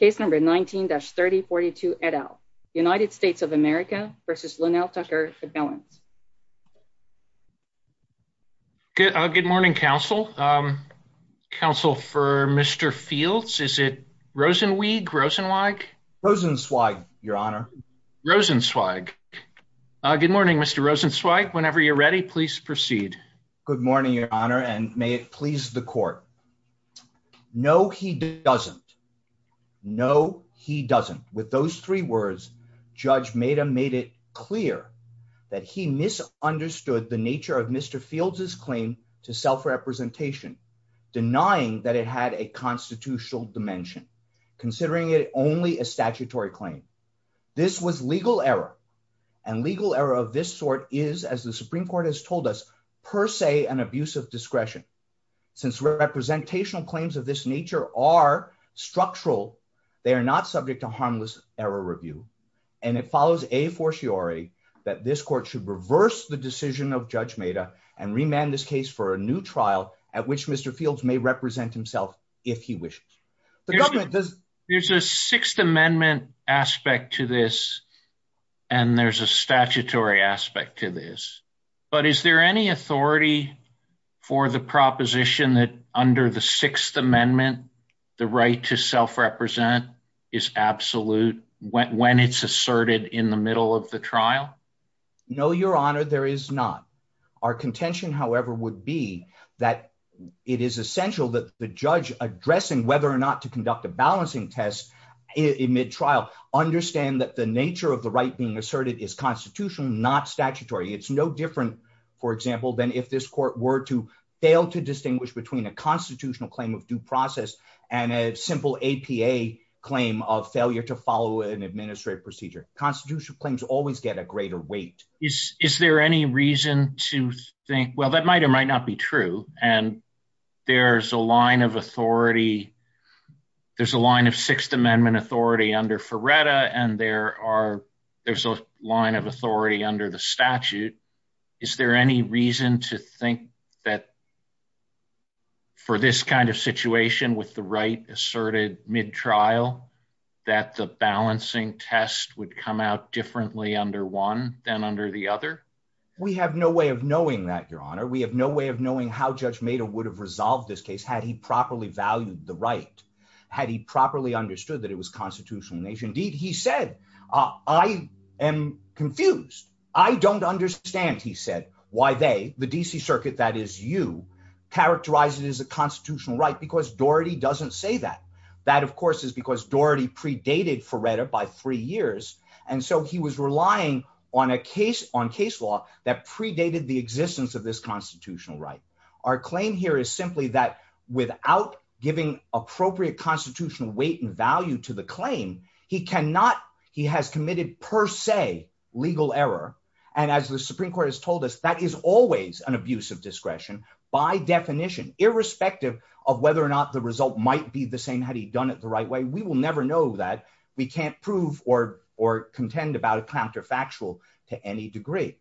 19-3042 et al. United States of America v. Lonnell Tucker for balance. Good morning, counsel. Counsel for Mr. Fields, is it Rosenweig? Rosenweig, your honor. Rosenweig. Good morning, Mr. Rosenweig. Whenever you're ready, please proceed. Good morning, your honor, and may it please the court. No, he doesn't. No, he doesn't. With those three words, Judge Maida made it clear that he misunderstood the nature of Mr. Fields' claim to self-representation, denying that it had a constitutional dimension, considering it only a statutory claim. This was legal error, and legal error of this sort is, as the Supreme Court has told us, per se an abuse of discretion. Since representational claims of this nature are structural, they are not subject to harmless error review. And it follows a fortiori that this court should reverse the decision of Judge Maida and remand this case for a new trial at which Mr. Fields may represent himself if he wishes. There's a Sixth Amendment aspect to this, and there's a statutory aspect to this, but is there any authority for the proposition that under the Sixth Amendment the right to self-represent is absolute when it's asserted in the middle of the trial? No, your honor, there is not. Our contention, however, would be that it is essential that the judge addressing whether or not to conduct a balancing test in mid-trial understand that the nature of the right being asserted is constitutional, not statutory. It's no different, for example, than if this court were to fail to distinguish between a constitutional claim of due process and a simple APA claim of failure to follow an administrative procedure. Constitutional claims always get a greater weight. Is there any reason to think, well, that might or might not be true, and there's a line of authority, there's a line of Sixth Amendment authority under Ferretta, and there's a line of authority under the statute. Is there any reason to think that for this kind of situation with the right asserted mid-trial that the balancing test would come out differently under one than under the other? We have no way of knowing that, your honor. We have no way of knowing how Judge Mado would have resolved this case had he properly valued the right, had he properly understood that it was constitutional in nature. Indeed, he said, I am confused. I don't understand, he said, why they, the D.C. Circuit, that is you, characterize it as a constitutional right because Doherty doesn't say that. That, of course, is because Doherty predated Ferretta by three years, and so he was relying on case law that predated the existence of this constitutional right. Our claim here is simply that without giving appropriate constitutional weight and value to the claim, he cannot, he has committed per se legal error, and as the Supreme Court has told us, that is always an abuse of discretion by definition, irrespective of whether or not the result might be the same had he done it the right way. We will never know that. We can't prove or contend about it counterfactual to any degree.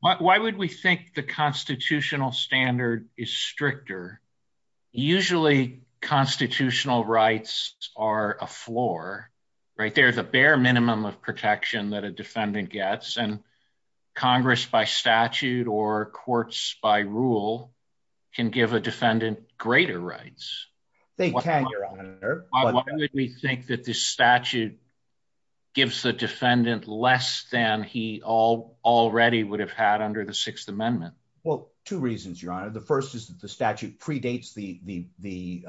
Why would we think the constitutional standard is stricter? Usually, constitutional rights are a floor, right? There's a bare minimum of protection that a defendant gets, and Congress by statute or courts by rule can give a defendant greater rights. Why would we think that the statute gives the defendant less than he already would have had under the Sixth Amendment? Well, two reasons, Your Honor. The first is that the statute predates the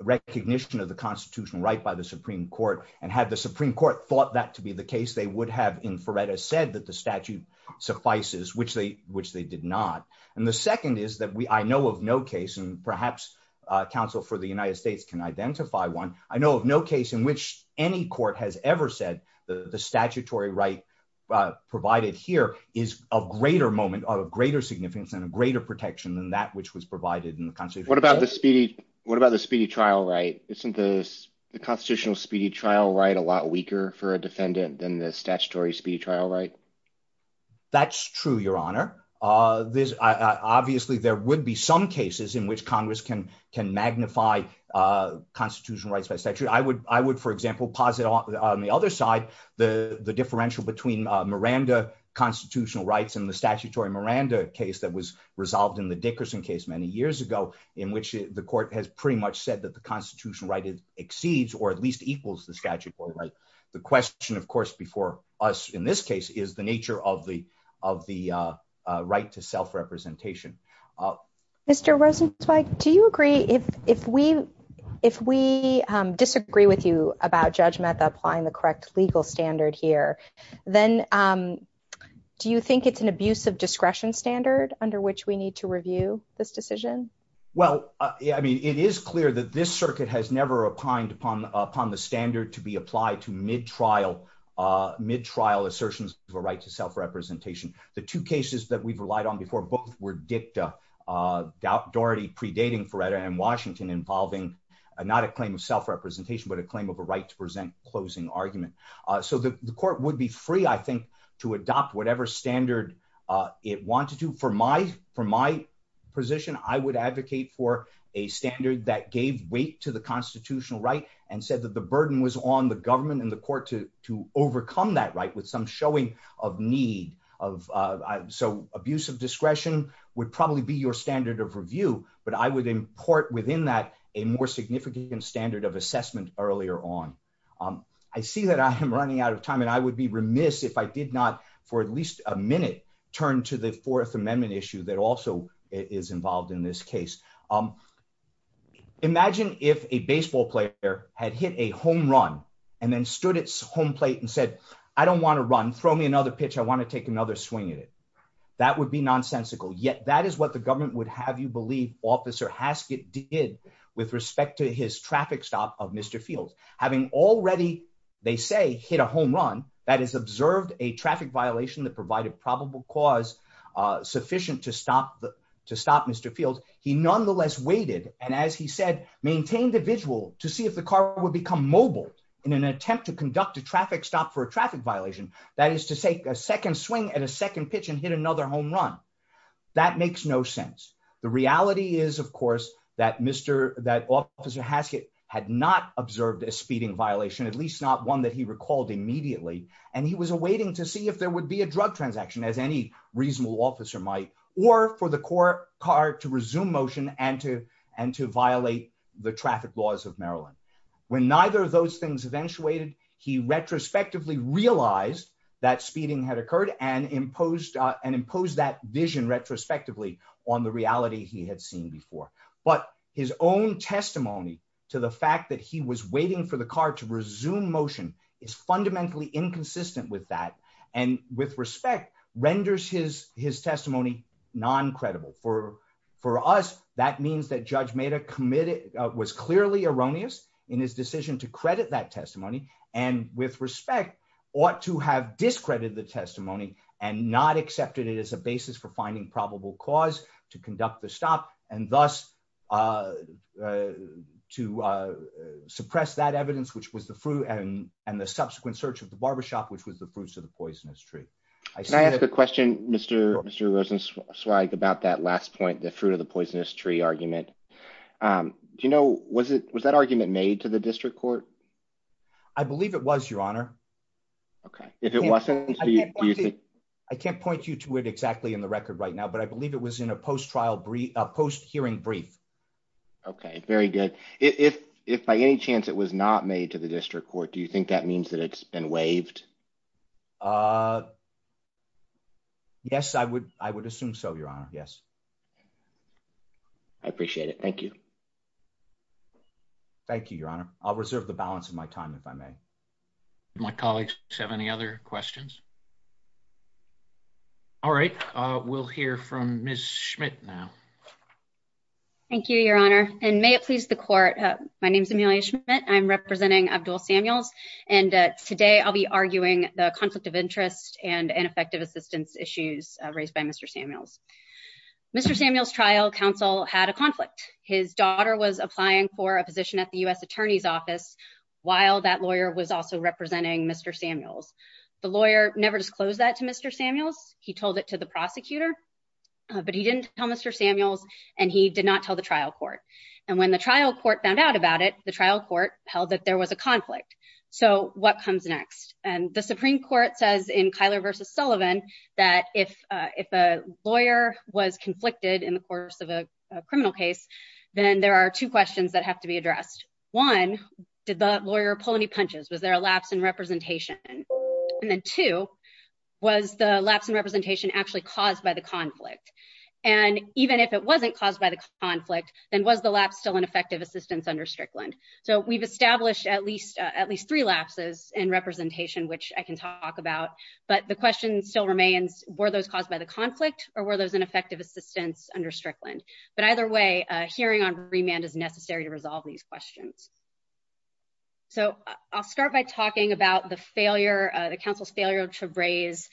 recognition of the constitutional right by the Supreme Court, and had the Supreme Court thought that to be the case, they would have in Ferretta said that the statute suffices, which they did not. And the second is that I know of no case, and perhaps counsel for the United States can identify one, I know of no case in which any court has ever said the statutory right provided here is of greater moment or of greater significance and of greater protection than that which was provided in the Constitution. What about the speedy trial right? Isn't the constitutional speedy trial right a lot weaker for a defendant than the statutory speedy trial right? That's true, Your Honor. Obviously, there would be some cases in which Congress can magnify constitutional rights by statute. I would, for example, posit on the other side the differential between Miranda constitutional rights and the statutory Miranda case that was resolved in the Dickerson case many years ago, in which the court has pretty much said that the constitutional right exceeds or at least equals the statutory right. The question, of course, before us in this case is the nature of the right to self-representation. Mr. Rosenzweig, do you agree if we disagree with you about Judge Mecca applying the correct legal standard here, then do you think it's an abuse of discretion standard under which we need to review this decision? Well, I mean, it is clear that this circuit has never opined upon the standard to be applied to mid-trial assertions of a right to self-representation. The two cases that we've relied on before both were dicta, Doherty predating Ferreira and Washington involving not a claim of self-representation but a claim of a right to present closing argument. So the court would be free, I think, to adopt whatever standard it wanted to. For my position, I would advocate for a standard that gave weight to the constitutional right and said that the burden was on the government and the court to overcome that right with some showing of need. So abuse of discretion would probably be your standard of review, but I would import within that a more significant standard of assessment earlier on. I see that I am running out of time and I would be remiss if I did not, for at least a minute, turn to the Fourth Amendment issue that also is involved in this case. Imagine if a baseball player had hit a home run and then stood at home plate and said, I don't want to run, throw me another pitch, I want to take another swing at it. That would be nonsensical, yet that is what the government would have you believe Officer Haskett did with respect to his traffic stop of Mr. Fields. Having already, they say, hit a home run, that is, observed a traffic violation that provided probable cause sufficient to stop Mr. Fields, he nonetheless waited and, as he said, maintained the visual to see if the car would become mobile in an attempt to conduct a traffic stop for a traffic violation. That is to take a second swing at a second pitch and hit another home run. That makes no sense. The reality is, of course, that Officer Haskett had not observed a speeding violation, at least not one that he recalled immediately, and he was awaiting to see if there would be a drug transaction, as any reasonable officer might, or for the car to resume motion and to violate the traffic laws of Maryland. When neither of those things eventuated, he retrospectively realized that speeding had occurred and imposed that vision retrospectively on the reality he had seen before. But his own testimony to the fact that he was waiting for the car to resume motion is fundamentally inconsistent with that and, with respect, renders his testimony non-credible. For us, that means that Judge Maeda was clearly erroneous in his decision to credit that testimony and, with respect, ought to have discredited the testimony and not accepted it as a basis for finding probable cause to conduct the stop and, thus, to suppress that evidence, which was the fruit and the subsequent search of the barbershop, which was the fruits of the poisonous tree. Can I ask a question, Mr. Rosenschweig, about that last point, the fruit of the poisonous tree argument? Do you know, was that argument made to the district court? I believe it was, Your Honor. Okay. If it wasn't, do you think... I can't point you to it exactly in the record right now, but I believe it was in a post-trial brief, a post-hearing brief. Okay, very good. If by any chance it was not made to the district court, do you think that means that it's been waived? Yes, I would assume so, Your Honor. Yes. I appreciate it. Thank you. Thank you, Your Honor. I'll reserve the balance of my time, if I may. Do my colleagues have any other questions? All right. We'll hear from Ms. Schmidt now. Thank you, Your Honor, and may it please the court, my name is Emilia Schmidt. I'm representing Abdul Samuel, and today I'll be arguing the conflict of interest and ineffective assistance issues raised by Mr. Samuel. Mr. Samuel's trial counsel had a conflict. His daughter was applying for a position at the U.S. Attorney's Office while that lawyer was also representing Mr. Samuel. The lawyer never disclosed that to Mr. Samuel. He told it to the prosecutor, but he didn't tell Mr. Samuel, and he did not tell the trial court. And when the trial court found out about it, the trial court held that there was a conflict. So what comes next? And the Supreme Court says in Kyler v. Sullivan that if a lawyer was conflicted in the course of a criminal case, then there are two questions that have to be addressed. One, did the lawyer pull any punches? Was there a lapse in representation? And then two, was the lapse in representation actually caused by the conflict? And even if it wasn't caused by the conflict, then was the lapse still an effective assistance under Strickland? So we've established at least three lapses in representation, which I can talk about, but the question still remains, were those caused by the conflict or were those an effective assistance under Strickland? But either way, a hearing on remand is necessary to resolve these questions. So I'll start by talking about the council's failure to raise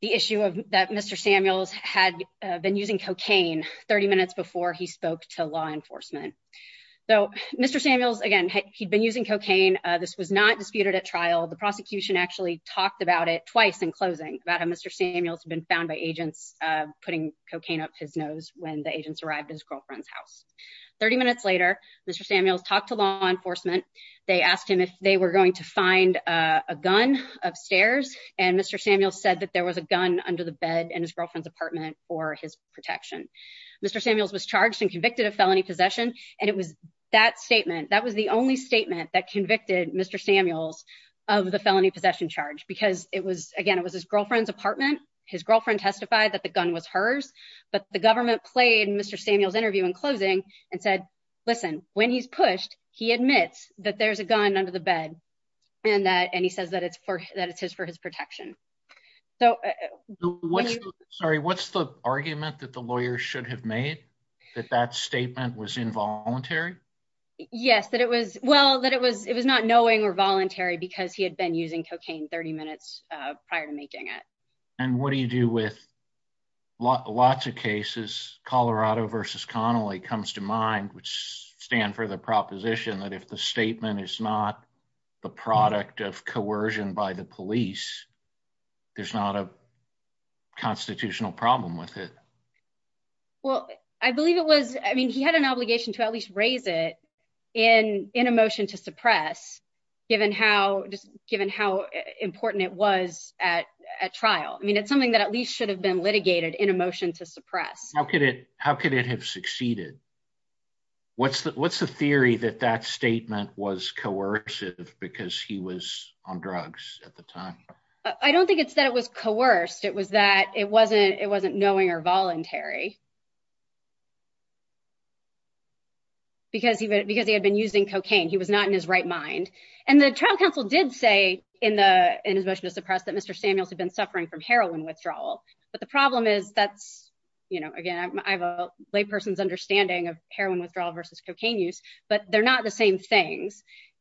the issue that Mr. Samuels had been using cocaine 30 minutes before he spoke to law enforcement. So Mr. Samuels, again, he'd been using cocaine. This was not disputed at trial. The prosecution actually talked about it twice in closing, about how Mr. Samuels had been found by agents putting cocaine up his nose when the agents arrived at his girlfriend's house. 30 minutes later, Mr. Samuels talked to law enforcement. They asked him if they were going to find a gun upstairs. And Mr. Samuels said that there was a gun under the bed in his girlfriend's apartment for his protection. Mr. Samuels was charged and convicted of felony possession. And it was that statement, that was the only statement that convicted Mr. Samuels of the felony possession charge, because it was, again, it was his girlfriend's apartment. His girlfriend testified that the gun was hers. But the government played Mr. Samuels' interview in closing and said, listen, when he's pushed, he admits that there's a gun under the bed and that, and he says that it's his for his protection. So, sorry, what's the argument that the lawyer should have made that that statement was involuntary? Yes, that it was, well, that it was, it was not knowing or voluntary because he had been using cocaine 30 minutes prior to making it. And what do you do with lots of cases, Colorado versus Connolly comes to mind, which stand for the proposition that if the statement is not the product of coercion by the police, there's not a constitutional problem with it. Well, I believe it was, I mean, he had an obligation to at least raise it in a motion to suppress, given how important it was at trial. I mean, it's something that at least should have been litigated in a motion to suppress. How could it have succeeded? What's the theory that that statement was coercive because he was on drugs at the time? I don't think it's that it was coerced. It was that it wasn't, it wasn't knowing or voluntary. Because he had been using cocaine, he was not in his right mind. And the trial counsel did say in his motion to suppress that Mr. Samuels had been suffering from heroin withdrawal. But the problem is that, you know, again, I have a lay person's understanding of heroin withdrawal versus cocaine use, but they're not the same thing.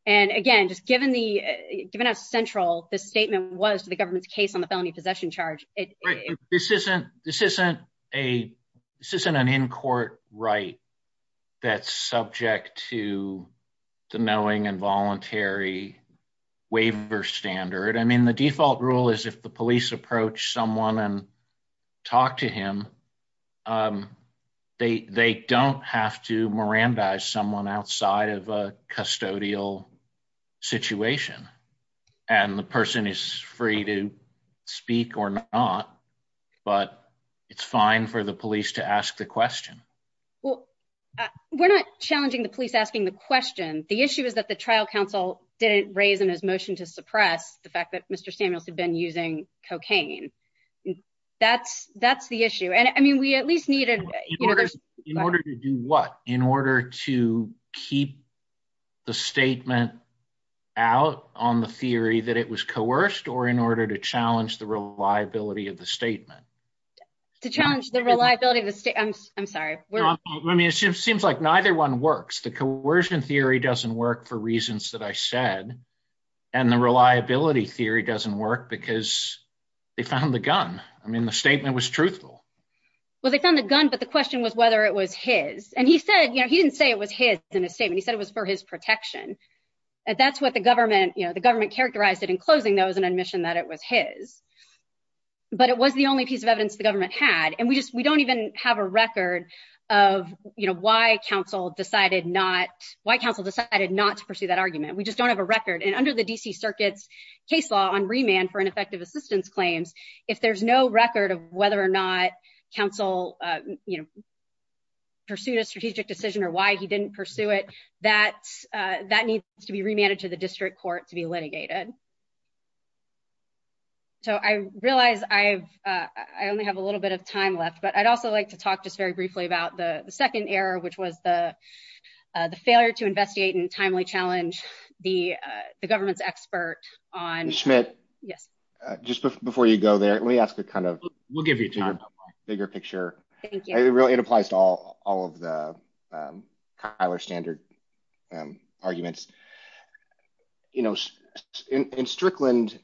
And again, just given the, given how central the statement was to the government's case on the felony possession charge. This isn't an in-court right that's subject to the knowing and voluntary waiver standard. I mean, the default rule is if the police approach someone and talk to him, they don't have to mirandize someone outside of a custodial situation. And the person is free to speak or not, but it's fine for the police to ask the question. Well, we're not challenging the police asking the question. The issue is that the trial counsel didn't raise in his motion to suppress the fact that Mr. Samuels had been using cocaine. That's, that's the issue. And I mean, we at least needed. In order to do what? In order to keep the statement out on the theory that it was coerced or in order to challenge the reliability of the statement? To challenge the reliability of the statement. I'm sorry. I mean, it seems like neither one works. The coercion theory doesn't work for reasons that I said. And the reliability theory doesn't work because they found the gun. I mean, the statement was truthful. Well, they found a gun, but the question was whether it was his. And he said, you know, he didn't say it was his statement. He said it was for his protection. That's what the government, you know, the government characterized it in closing those and admission that it was his. But it was the only piece of evidence the government had, and we just we don't even have a record of why counsel decided not why counsel decided not to pursue that argument. We just don't have a record. And under the D.C. Circuit case law on remand for ineffective assistance claims. If there's no record of whether or not counsel. Pursued a strategic decision or why he didn't pursue it that that needs to be remanded to the district court to be litigated. So I realize I've I only have a little bit of time left, but I'd also like to talk just very briefly about the second error, which was the failure to investigate and timely challenge the government's expert on Schmidt. Yes. Just before you go there, we have to kind of we'll give you a bigger picture. It applies to all of the standard arguments, you know, in Strickland.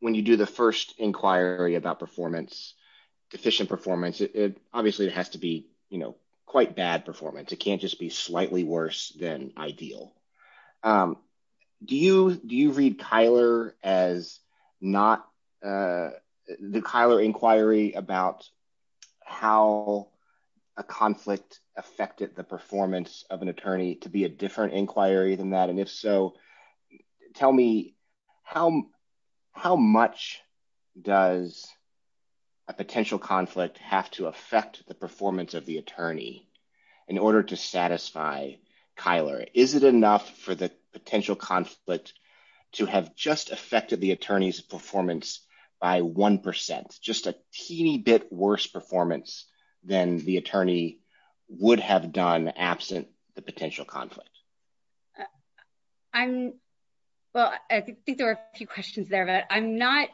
When you do the first inquiry about performance, efficient performance, it obviously has to be, you know, quite bad performance. It can't just be slightly worse than ideal. Do you do you read Kyler as not the Kyler inquiry about how a conflict affected the performance of an attorney to be a different inquiry than that? And if so, tell me how how much does a potential conflict have to affect the performance of the attorney in order to satisfy Kyler? Well, I think there are a few questions there, but I'm not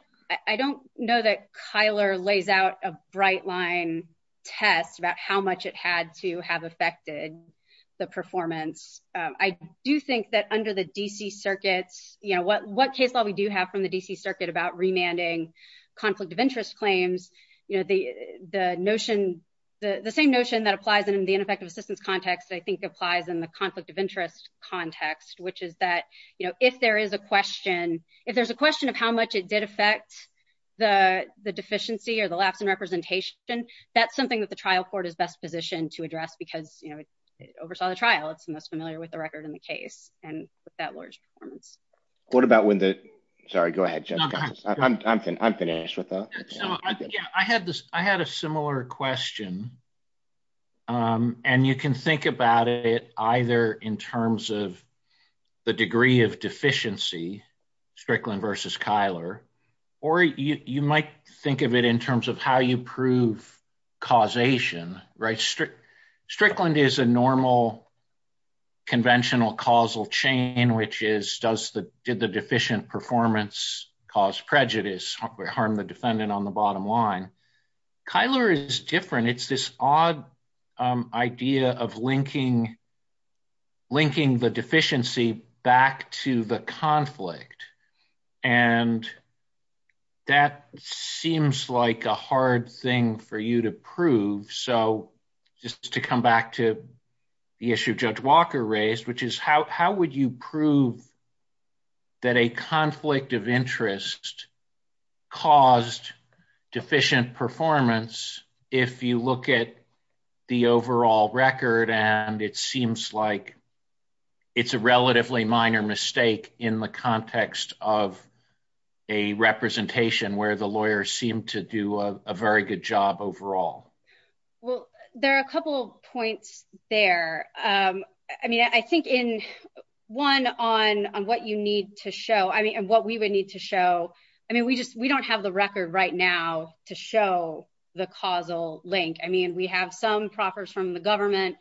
I don't know that Kyler lays out a bright line test about how much it had to have affected the performance of the attorney. I do think that under the D.C. Circuit, you know, what what takes all we do have from the D.C. Circuit about remanding conflict of interest claims. You know, the notion, the same notion that applies in the ineffective assistance context, I think, applies in the conflict of interest context, which is that, you know, if there is a question, if there's a question of how much it did affect the deficiency or the lack of representation, that's something that the trial court is best positioned to address because, you know, oversaw the trial. That's familiar with the record in the case. And with that large, what about when the sorry, go ahead. I'm finished with that. I had this I had a similar question. And you can think about it either in terms of the degree of deficiency, Strickland versus Kyler, or you might think of it in terms of how you prove causation, right? Strickland is a normal conventional causal chain, which is does the did the deficient performance cause prejudice or harm the defendant on the bottom line? Kyler is different. It's this odd idea of linking, linking the deficiency back to the conflict. And that seems like a hard thing for you to prove. So just to come back to the issue Judge Walker raised, which is how would you prove that a conflict of interest caused deficient performance if you look at the overall record? And it seems like it's a relatively minor mistake in the context of a representation where the lawyers seem to do a very good job overall. Well, there are a couple points there. I mean, I think in one on what you need to show, I mean, and what we would need to show. I mean, we just we don't have the record right now to show the causal link. I mean, we have some proffers from the government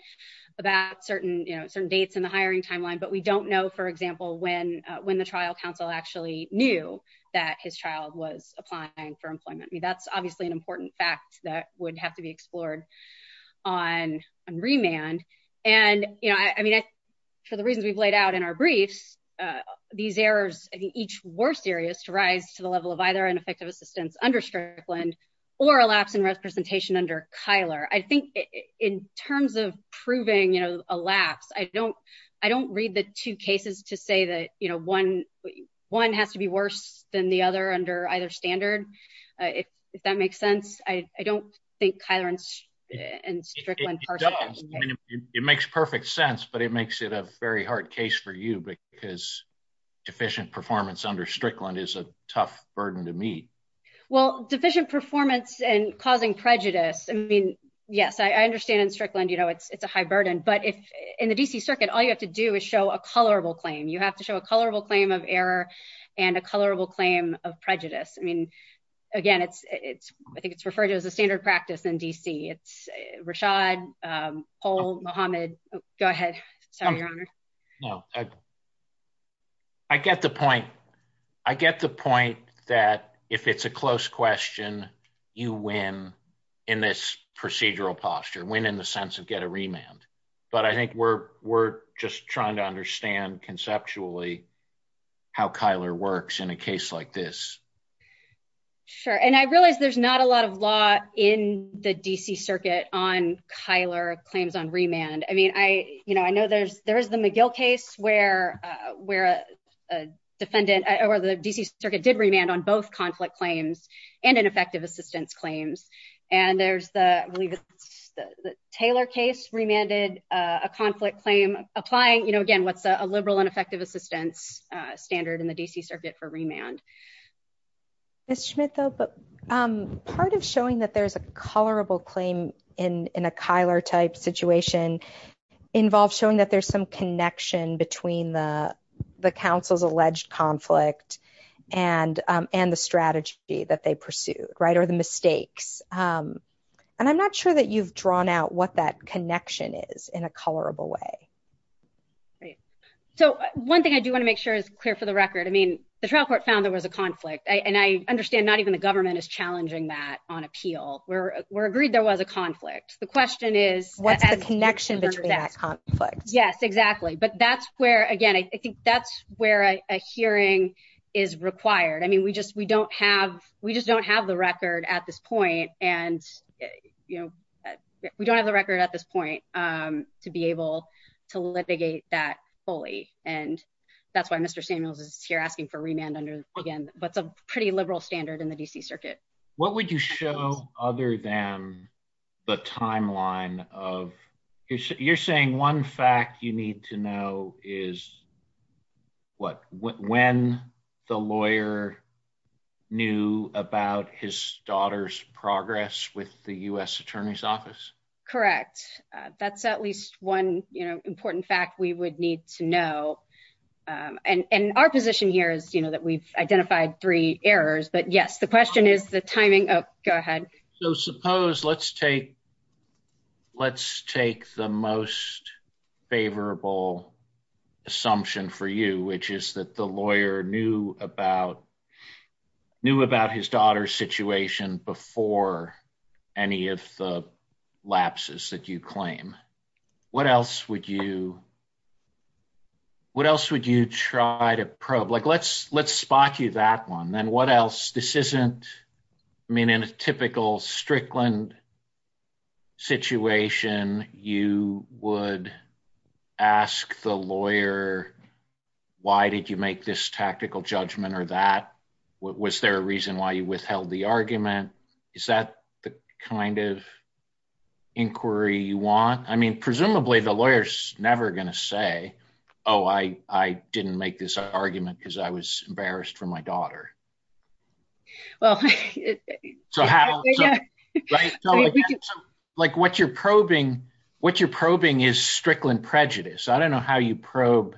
about certain dates in the hiring timeline, but we don't know, for example, when the trial counsel actually knew that his child was applying for employment. I mean, that's obviously an important fact that would have to be explored on remand. And, you know, I mean, for the reasons we've laid out in our brief, these errors in each worst areas to rise to the level of either ineffective assistance under Strickland or elapsing representation under Kyler. I think in terms of proving, you know, elapsed, I don't read the two cases to say that, you know, one has to be worse than the other under either standard. If that makes sense, I don't think Kyler and Strickland. It makes perfect sense, but it makes it a very hard case for you because deficient performance under Strickland is a tough burden to meet. Well, deficient performance and causing prejudice. I mean, yes, I understand in Strickland, you know, it's a high burden, but in the D.C. Circuit, all you have to do is show a colorable claim. You have to show a colorable claim of error and a colorable claim of prejudice. I mean, again, I think it's referred to as a standard practice in D.C. Rashad, Paul, Mohamed, go ahead. I get the point. I get the point that if it's a close question, you win in this procedural posture, win in the sense of get a remand. But I think we're just trying to understand conceptually how Kyler works in a case like this. Sure. And I realize there's not a lot of law in the D.C. Circuit on Kyler claims on remand. I mean, I know there's the McGill case where the D.C. Circuit did remand on both conflict claims and ineffective assistance claims. And there's the Taylor case remanded a conflict claim applying, you know, again, what's a liberal and effective assistance standard in the D.C. Circuit for remand. Ms. Schmitfeld, part of showing that there's a colorable claim in a Kyler type situation involves showing that there's some connection between the counsel's alleged conflict and the strategy that they pursued, right, or the mistakes. And I'm not sure that you've drawn out what that connection is in a colorable way. So one thing I do want to make sure is clear for the record. I mean, the trial court found there was a conflict. And I understand not even the government is challenging that on appeal. We're agreed there was a conflict. The question is, what is the connection to that conflict? Yes, exactly. But that's where, again, I think that's where a hearing is required. I mean, we just we don't have we just don't have the record at this point. And, you know, we don't have the record at this point to be able to litigate that fully. And that's why Mr. Samuels is here asking for remand again. What would you show other than the timeline of, you're saying one fact you need to know is what, when the lawyer knew about his daughter's progress with the U.S. Attorney's Office? Correct. That's at least one, you know, important fact we would need to know. And our position here is, you know, that we've identified three errors. But yes, the question is the timing. Oh, go ahead. So suppose let's take let's take the most favorable assumption for you, which is that the lawyer knew about knew about his daughter's situation before any of the lapses that you claim. What else would you what else would you try to probe? Like, let's let's spot you that one. And what else? This isn't I mean, in a typical Strickland situation, you would ask the lawyer, why did you make this tactical judgment or that? Was there a reason why you withheld the argument? Is that the kind of inquiry you want? I mean, presumably the lawyer's never going to say, oh, I didn't make this argument because I was embarrassed for my daughter. Well, like what you're probing, what you're probing is Strickland prejudice. I don't know how you probe,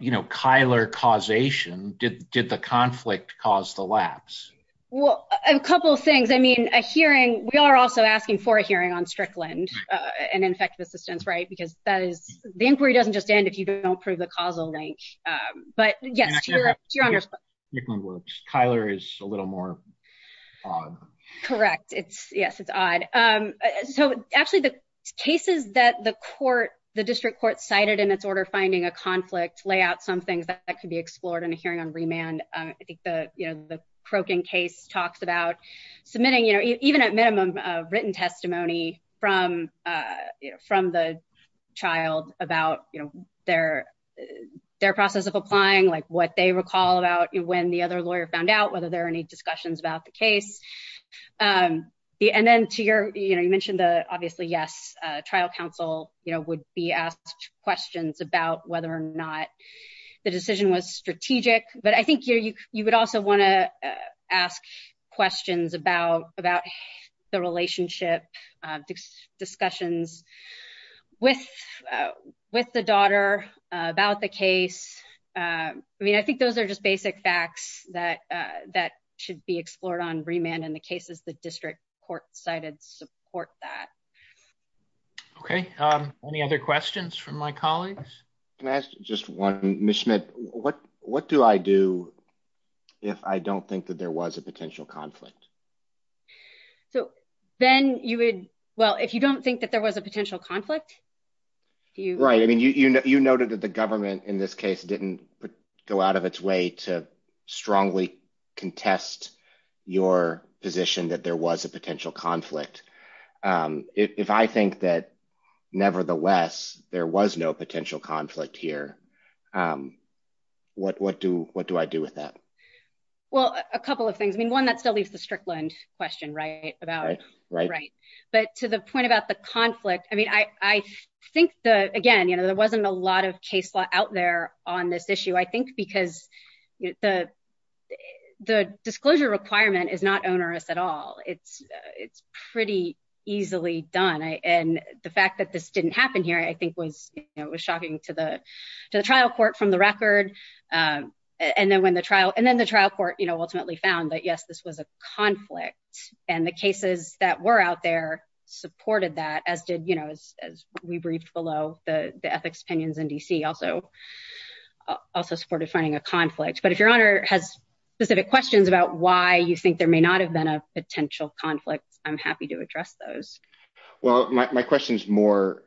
you know, Kyler causation. Did the conflict cause the lapse? Well, a couple of things. I mean, a hearing. We are also asking for a hearing on Strickland. And in fact, assistance, right, because that is the inquiry doesn't just end if you don't prove the causal link. But yes, you're on. Kyler is a little more correct. It's yes, it's odd. So actually, the cases that the court, the district court cited in its order, finding a conflict lay out some things that could be explored in a hearing on remand. I think the croaking case talks about submitting, you know, even at minimum written testimony from from the child about their their process of applying, like what they recall about when the other lawyer found out whether there are any discussions about the case. And then to your, you know, you mentioned, obviously, yes, trial counsel, you know, would be asked questions about whether or not the decision was strategic. But I think you would also want to ask questions about about the relationship discussions with with the daughter about the case. I mean, I think those are just basic facts that that should be explored on remand in the cases. The district court cited support that Okay. Any other questions from my colleagues. Just one mission. What, what do I do if I don't think that there was a potential conflict. So then you would. Well, if you don't think that there was a potential conflict. Right. I mean, you know, you noted that the government in this case didn't go out of its way to strongly contest your position that there was a potential conflict. If I think that, nevertheless, there was no potential conflict here. What, what do, what do I do with that. Well, a couple of things. I mean, one that still leaves the Strickland question right about it. Right. But to the point about the conflict. I mean, I think the, again, you know, there wasn't a lot of case law out there on this issue, I think, because The disclosure requirement is not onerous at all. It's, it's pretty easily done. And the fact that this didn't happen here. I think when it was shocking to the trial court from the record. And then when the trial and then the trial court, you know, ultimately found that, yes, this was a conflict and the cases that were out there supported that as did, you know, as we breached below the ethics opinions in DC also Also supported finding a conflict. But if your honor has specific questions about why you think there may not have been a potential conflict. I'm happy to address those Well, my question is more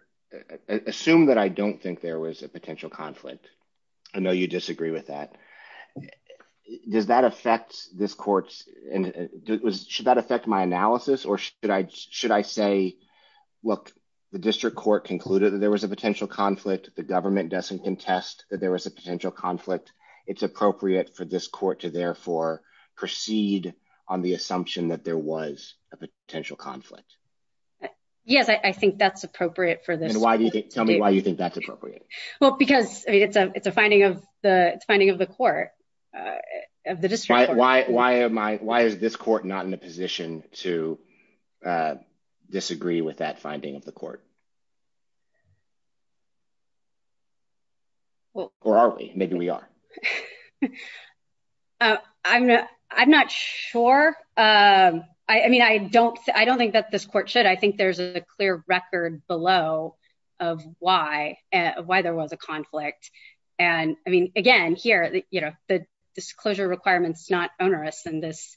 assume that I don't think there was a potential conflict. I know you disagree with that. Does that affect this courts and it was should that affect my analysis or should I should I say Look, the district court concluded that there was a potential conflict, the government doesn't contest that there was a potential conflict. It's appropriate for this court to therefore proceed on the assumption that there was a potential conflict. Yes, I think that's appropriate for the Why do you think that's appropriate. Well, because it's a it's a finding of the finding of the court. Why, why am I, why is this court, not in a position to disagree with that finding of the court. Well, or are we maybe we are I'm not, I'm not sure. I mean, I don't, I don't think that this court should I think there's a clear record below of why and why there was a conflict. And I mean, again, here, you know, the disclosure requirements not onerous and this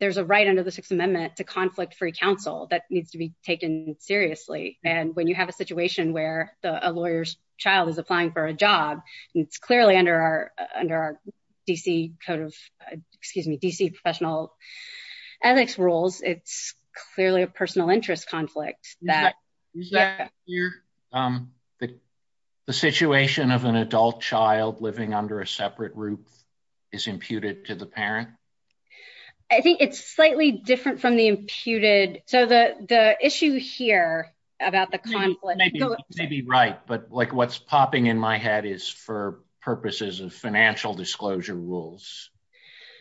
There's a right under the Sixth Amendment to conflict free counsel that needs to be taken seriously. And when you have a situation where a lawyer's child is applying for a job. It's clearly under our under our PC code of excuse me PC professional ethics rules. It's clearly a personal interest conflict that The situation of an adult child living under a separate group is imputed to the parent. I think it's slightly different from the imputed so that the issue here about the conflict. Maybe right but like what's popping in my head is for purposes of financial disclosure rules.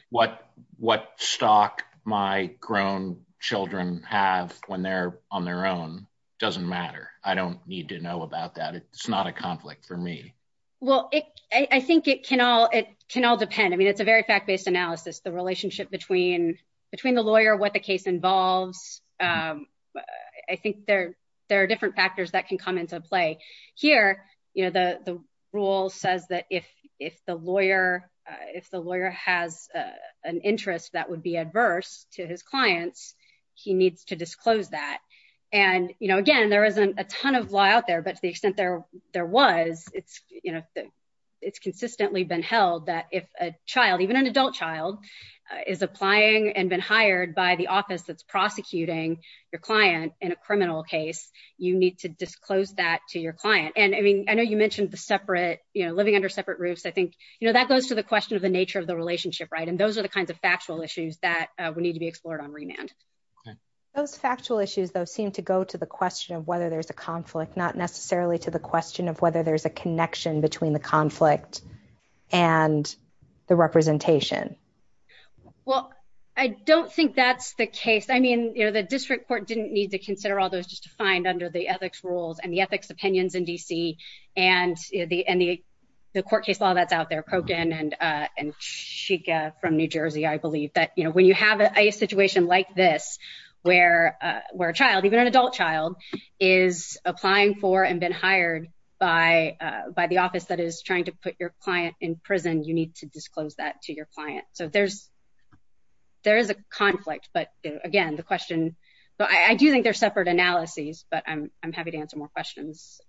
What what stock my grown children have when they're on their own doesn't matter. I don't need to know about that. It's not a conflict for me. Well, I think it can all it can all depend. I mean, it's a very fact based analysis, the relationship between between the lawyer, what the case involved. I think there there are different factors that can come into play here, you know, the, the rule says that if if the lawyer. If the lawyer has an interest that would be adverse to his clients. He needs to disclose that and, you know, again, there isn't a ton of law out there, but the extent there there was it's, you know, Even an adult child is applying and been hired by the office that's prosecuting your client in a criminal case. You need to disclose that to your client. And I mean, I know you mentioned the separate, you know, living under separate roofs. I think, you know, that goes to the question of the nature of the relationship. Right. And those are the kinds of factual issues that we need to be explored on remand. Factual issues, those seem to go to the question of whether there's a conflict, not necessarily to the question of whether there's a connection between the conflict and the representation. Well, I don't think that's the case. I mean, you know, the district court didn't need to consider all those defined under the ethics rules and the ethics opinions in DC and the any Court case law that's out there, Kogan and Shika from New Jersey, I believe that, you know, when you have a situation like this, where a child, even an adult child, is applying for and been hired by the office that is trying to put your client in prison, you need to disclose that to your client. So there's There's a conflict. But again, the question, but I do think they're separate analyses, but I'm happy to answer more questions.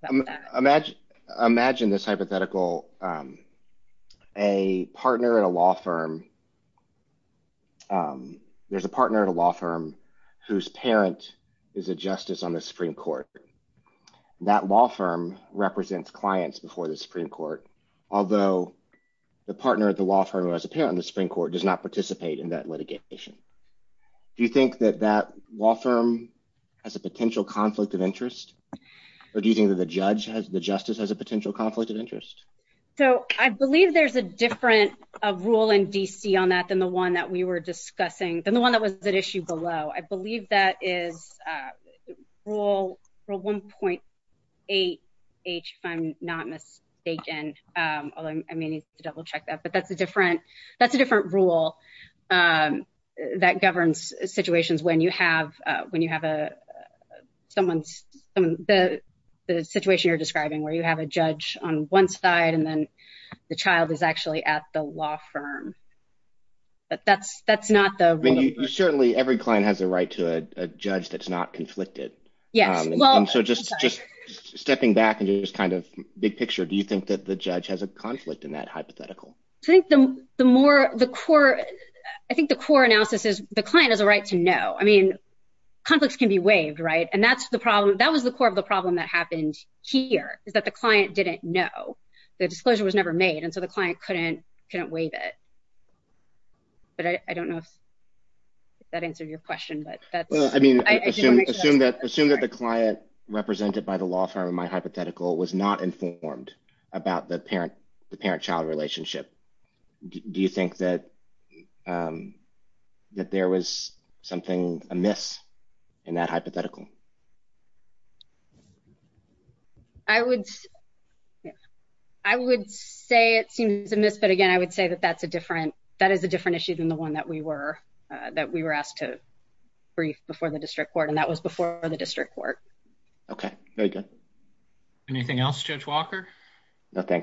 Imagine this hypothetical A partner in a law firm. There's a partner in a law firm whose parent is a justice on the Supreme Court. That law firm represents clients before the Supreme Court, although the partner of the law firm has a parent in the Supreme Court does not participate in that litigation. Do you think that that law firm has a potential conflict of interest, or do you think that the judge has the justice has a potential conflict of interest. So I believe there's a different rule in DC on that than the one that we were discussing than the one that was the issue below. I believe that is Rule 1.8H, if I'm not mistaken, although I may need to double check that, but that's a different rule. That governs situations when you have when you have a Someone's the situation you're describing where you have a judge on one side and then the child is actually at the law firm. But that's, that's not the Certainly every client has the right to a judge that's not conflicted. Yeah, well, just Stepping back into this kind of big picture. Do you think that the judge has a conflict in that hypothetical I think the more the core. I think the core analysis is the client has a right to know. I mean, Conflicts can be waived. Right. And that's the problem. That was the core of the problem that happened here is that the client didn't know the disclosure was never made. And so the client couldn't couldn't waive it. But I don't know if That answered your question, but I mean, assume that assume that the client represented by the law firm. My hypothetical was not informed about the parent, the parent child relationship. Do you think that That there was something a myth in that hypothetical I would I would say it seems in this, but again, I would say that that's a different that is a different issues in the one that we were that we were asked to Brief before the district court and that was before the district court. Okay. Anything else, Judge Walker. Okay.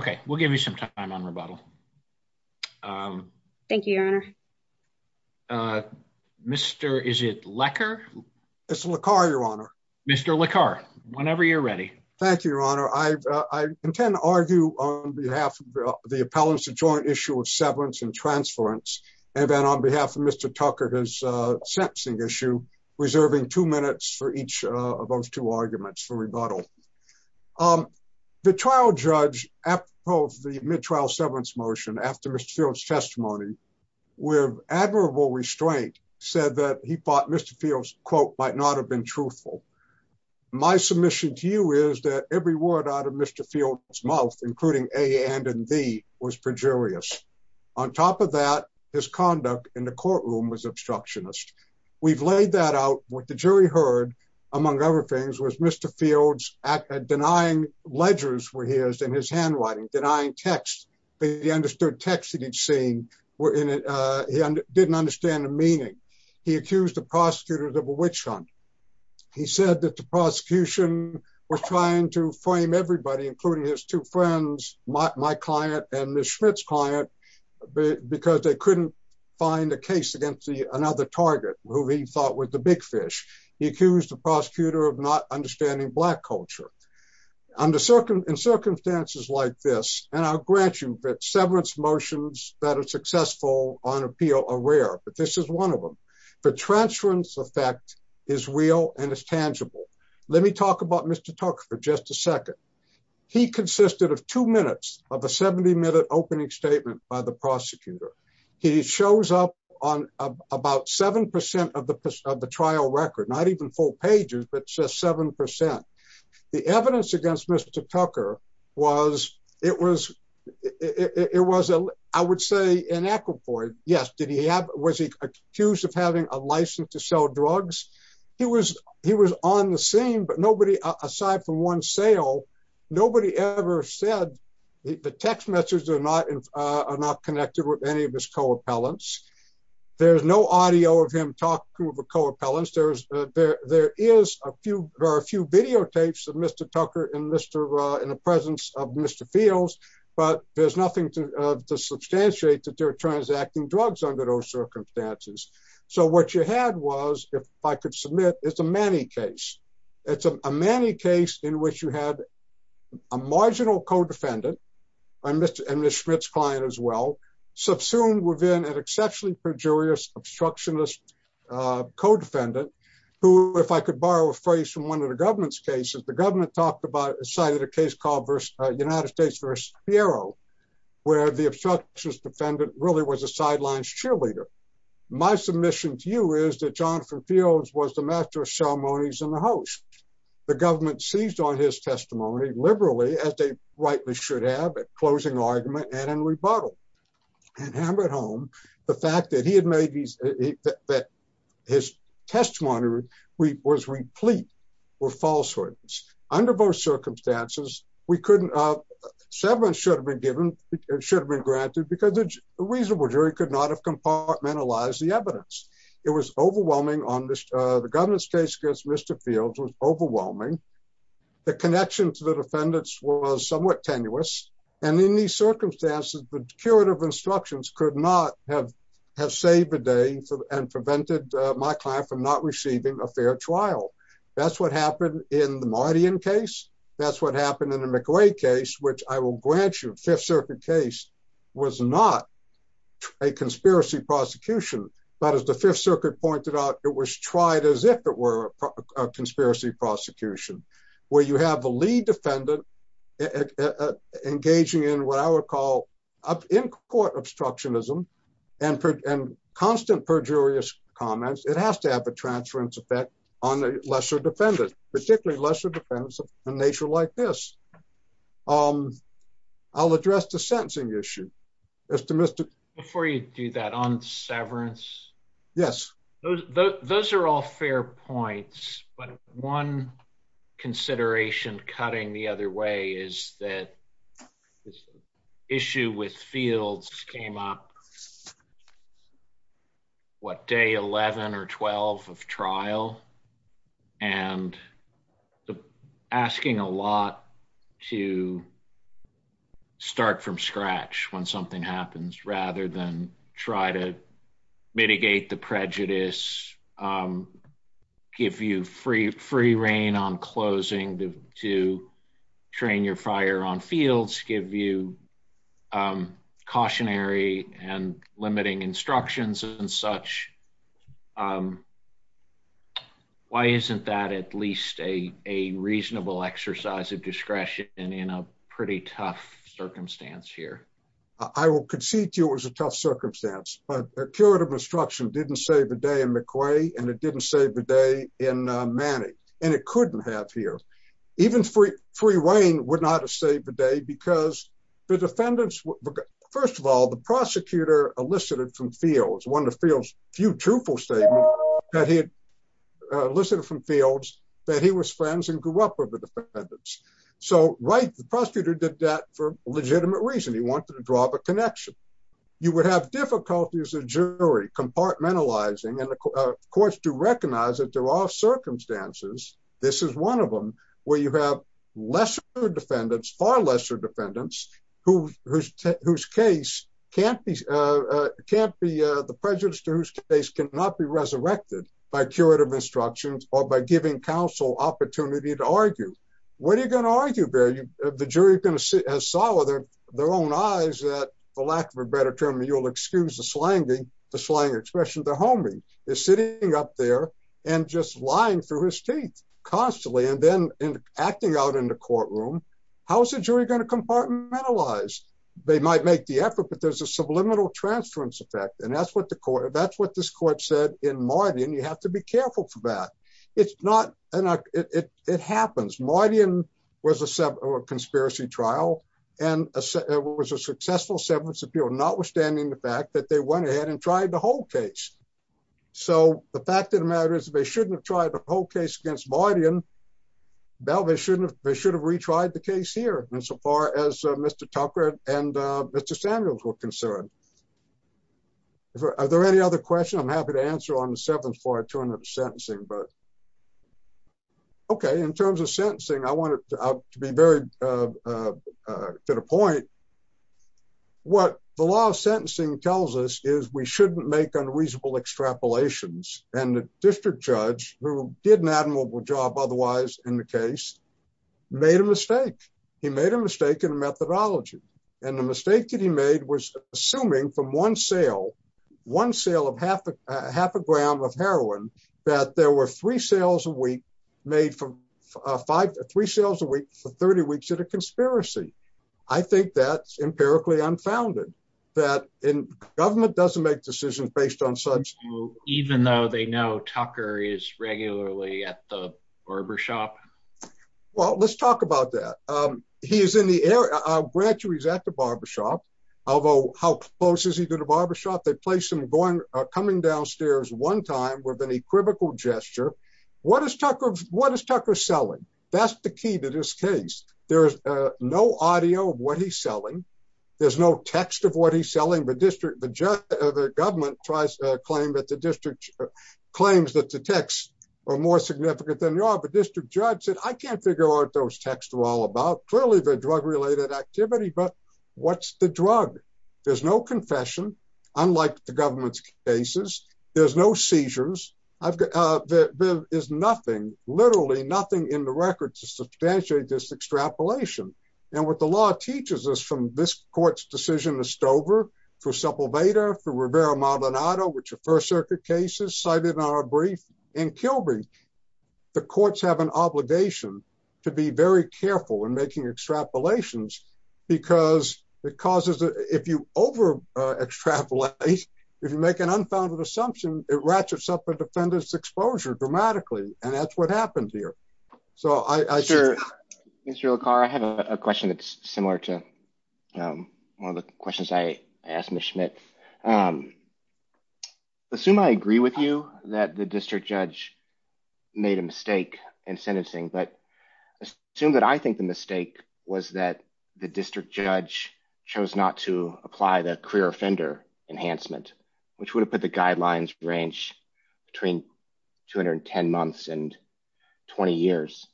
Okay, we'll give you some time on rebuttal. Thank you, Your Honor. Mr. Is it lacquer. It's a little car, Your Honor. Mr. La car whenever you're ready. Thank you, Your Honor. I intend to argue on behalf of the appellants to join issue of severance and transference and then on behalf of Mr. Tucker, his sentencing issue reserving two minutes for each of those two arguments for rebuttal. The trial judge at both the mid trial severance motion after Mr fields testimony with admirable restraint said that he thought Mr fields quote might not have been truthful. My submission to you is that every word out of Mr. Fields mouth, including a and and be was perjurious. On top of that, his conduct in the courtroom was obstructionist We've laid that out with the jury heard, among other things, was Mr fields at denying ledgers where he is in his handwriting denying text. He understood texted each scene were in it. He didn't understand the meaning. He accused the prosecutors of a witch hunt. He said that the prosecution was trying to frame everybody, including his two friends, my client and the Schmitz client. Because they couldn't find a case against the another target who he thought was the big fish. He accused the prosecutor of not understanding black culture. Under certain circumstances like this and I'll grant you that severance motions that are successful on appeal are rare, but this is one of them. The transference effect is real and it's tangible. Let me talk about Mr. Tucker for just a second. He consisted of two minutes of a 70 minute opening statement by the prosecutor. He shows up on about 7% of the trial record, not even full pages, but just 7% The evidence against Mr. Tucker was, it was, it was a, I would say, an acupoint. Yes. Did he have, was he accused of having a license to sell drugs? He was, he was on the scene, but nobody, aside from one sale, nobody ever said the text messages are not, are not connected with any of his co-appellants. There's no audio of him talking to the co-appellants. There's, there, there is a few, there are a few videotapes of Mr. Tucker and Mr. in the presence of Mr. Fields, but there's nothing to substantiate that they're transacting drugs under those circumstances. So what you had was, if I could submit, it's a manny case. It's a manny case in which you have a marginal co-defendant and Mr. and Ms. Schmidt's client as well, subsumed within an exceptionally perjurious obstructionist co-defendant, who, if I could borrow a phrase from one of the government's cases, the government talked about, cited a case called United States versus Piero, where the obstructionist defendant really was a sidelines cheerleader. My submission to you is that Jonathan Fields was the master of ceremonies and the host. The government seized on his testimony liberally as they rightly should have at closing argument and in rebuttal. And hammered home the fact that he had made these, that his testimony was replete with falsehoods. Under those circumstances, we couldn't, several should have been given, should have been granted because the reasonable jury could not have compartmentalized the evidence. It was overwhelming on this. The government's case against Mr. Fields was overwhelming. The connection to the defendants was somewhat tenuous. And in these circumstances, the curative instructions could not have saved the day and prevented my client from not receiving a fair trial. That's what happened in the Mardian case. That's what happened in the McLeod case, which I will grant you, the Fifth Circuit case was not a conspiracy prosecution. But as the Fifth Circuit pointed out, it was tried as if it were a conspiracy prosecution, where you have the lead defendant engaging in what I would call in-court obstructionism and constant perjurious comments. It has to have a transference effect on the lesser defendant, particularly lesser defendants of a nature like this. I'll address the sentencing issue. Before you do that, on severance, those are all fair points, but one consideration cutting the other way is that this issue with Fields came up, what, day 11 or 12 of trial? And asking a lot to start from scratch when something happens rather than try to mitigate the prejudice, give you free reign on closing to train your fire on Fields, give you cautionary and limiting instructions and such. Why isn't that at least a reasonable exercise of discretion in a pretty tough circumstance here? I will concede to you it was a tough circumstance, but a curative instruction didn't save the day in McCrae and it didn't save the day in Manning, and it couldn't have here. Even free reign would not have saved the day because the defendants, first of all, the prosecutor elicited from Fields, one of Fields' few truthful statements, that he had elicited from Fields that he was friends and grew up with the defendants. The prosecutor did that for legitimate reason, he wanted to draw the connection. You would have difficulties as a jury compartmentalizing and of course to recognize that there are circumstances, this is one of them, where you have lesser defendants, far lesser defendants, whose case can't be, the prejudice to whose case cannot be resurrected by curative instructions or by giving counsel opportunity to argue. What are you going to argue, Barry? The jury is going to sit and saw with their own eyes that, for lack of a better term, you'll excuse the slang expression, the homie is sitting up there and just lying through his teeth constantly and then acting out in the courtroom. How is the jury going to compartmentalize? They might make the effort, but there's a subliminal transference effect and that's what the court, that's what this court said in Martin, you have to be careful for that. It's not, it happens. Martin was a conspiracy trial and it was a successful sentence appeal, notwithstanding the fact that they went ahead and tried the whole case. So, the fact of the matter is they shouldn't have tried the whole case against Martin, they should have retried the case here, insofar as Mr. Tucker and Mr. Samuels were concerned. Are there any other questions? I'm happy to answer on the seventh floor in terms of sentencing. Okay, in terms of sentencing, I want to be very to the point, what the law of sentencing tells us is we shouldn't make unreasonable extrapolations and the district judge who did an admirable job otherwise in the case made a mistake. He made a mistake in methodology and the mistake that he made was assuming from one sale, one sale of half a gram of heroin, that there were three sales a week made from five, three sales a week for 30 weeks at a conspiracy. I think that's empirically unfounded, that in government doesn't make decisions based on such. Even though they know Tucker is regularly at the barber shop. Well, let's talk about that. He is in the area, I'll grant you he's at the barber shop, although how close is he to the barber shop? They placed him coming downstairs one time with an equivocal gesture. What is Tucker selling? That's the key to this case. There's no audio of what he's selling, there's no text of what he's selling. The government tries to claim that the district claims that the texts are more significant than they are, but district judge said, I can't figure out what those texts are all about. Clearly they're drug related activity, but what's the drug? There's no confession, unlike the government's cases. There's no seizures. There is nothing, literally nothing in the records to substantiate this extrapolation. And what the law teaches us from this court's decision to Stover, for Sepulveda, for Rivera-Maldonado, which are first circuit cases cited in our brief, and Kilby. The courts have an obligation to be very careful in making extrapolations because it causes, if you over extrapolate, if you make an unfounded assumption, it ratchets up the defendant's exposure dramatically. And that's what happens here. Mr. LaCar, I have a question that's similar to one of the questions I asked Ms. Schmidt. Assume I agree with you that the district judge made a mistake in sentencing, but assume that I think the mistake was that the district judge chose not to apply the career offender enhancement, which would have put the guidelines range between 210 months and 20 years.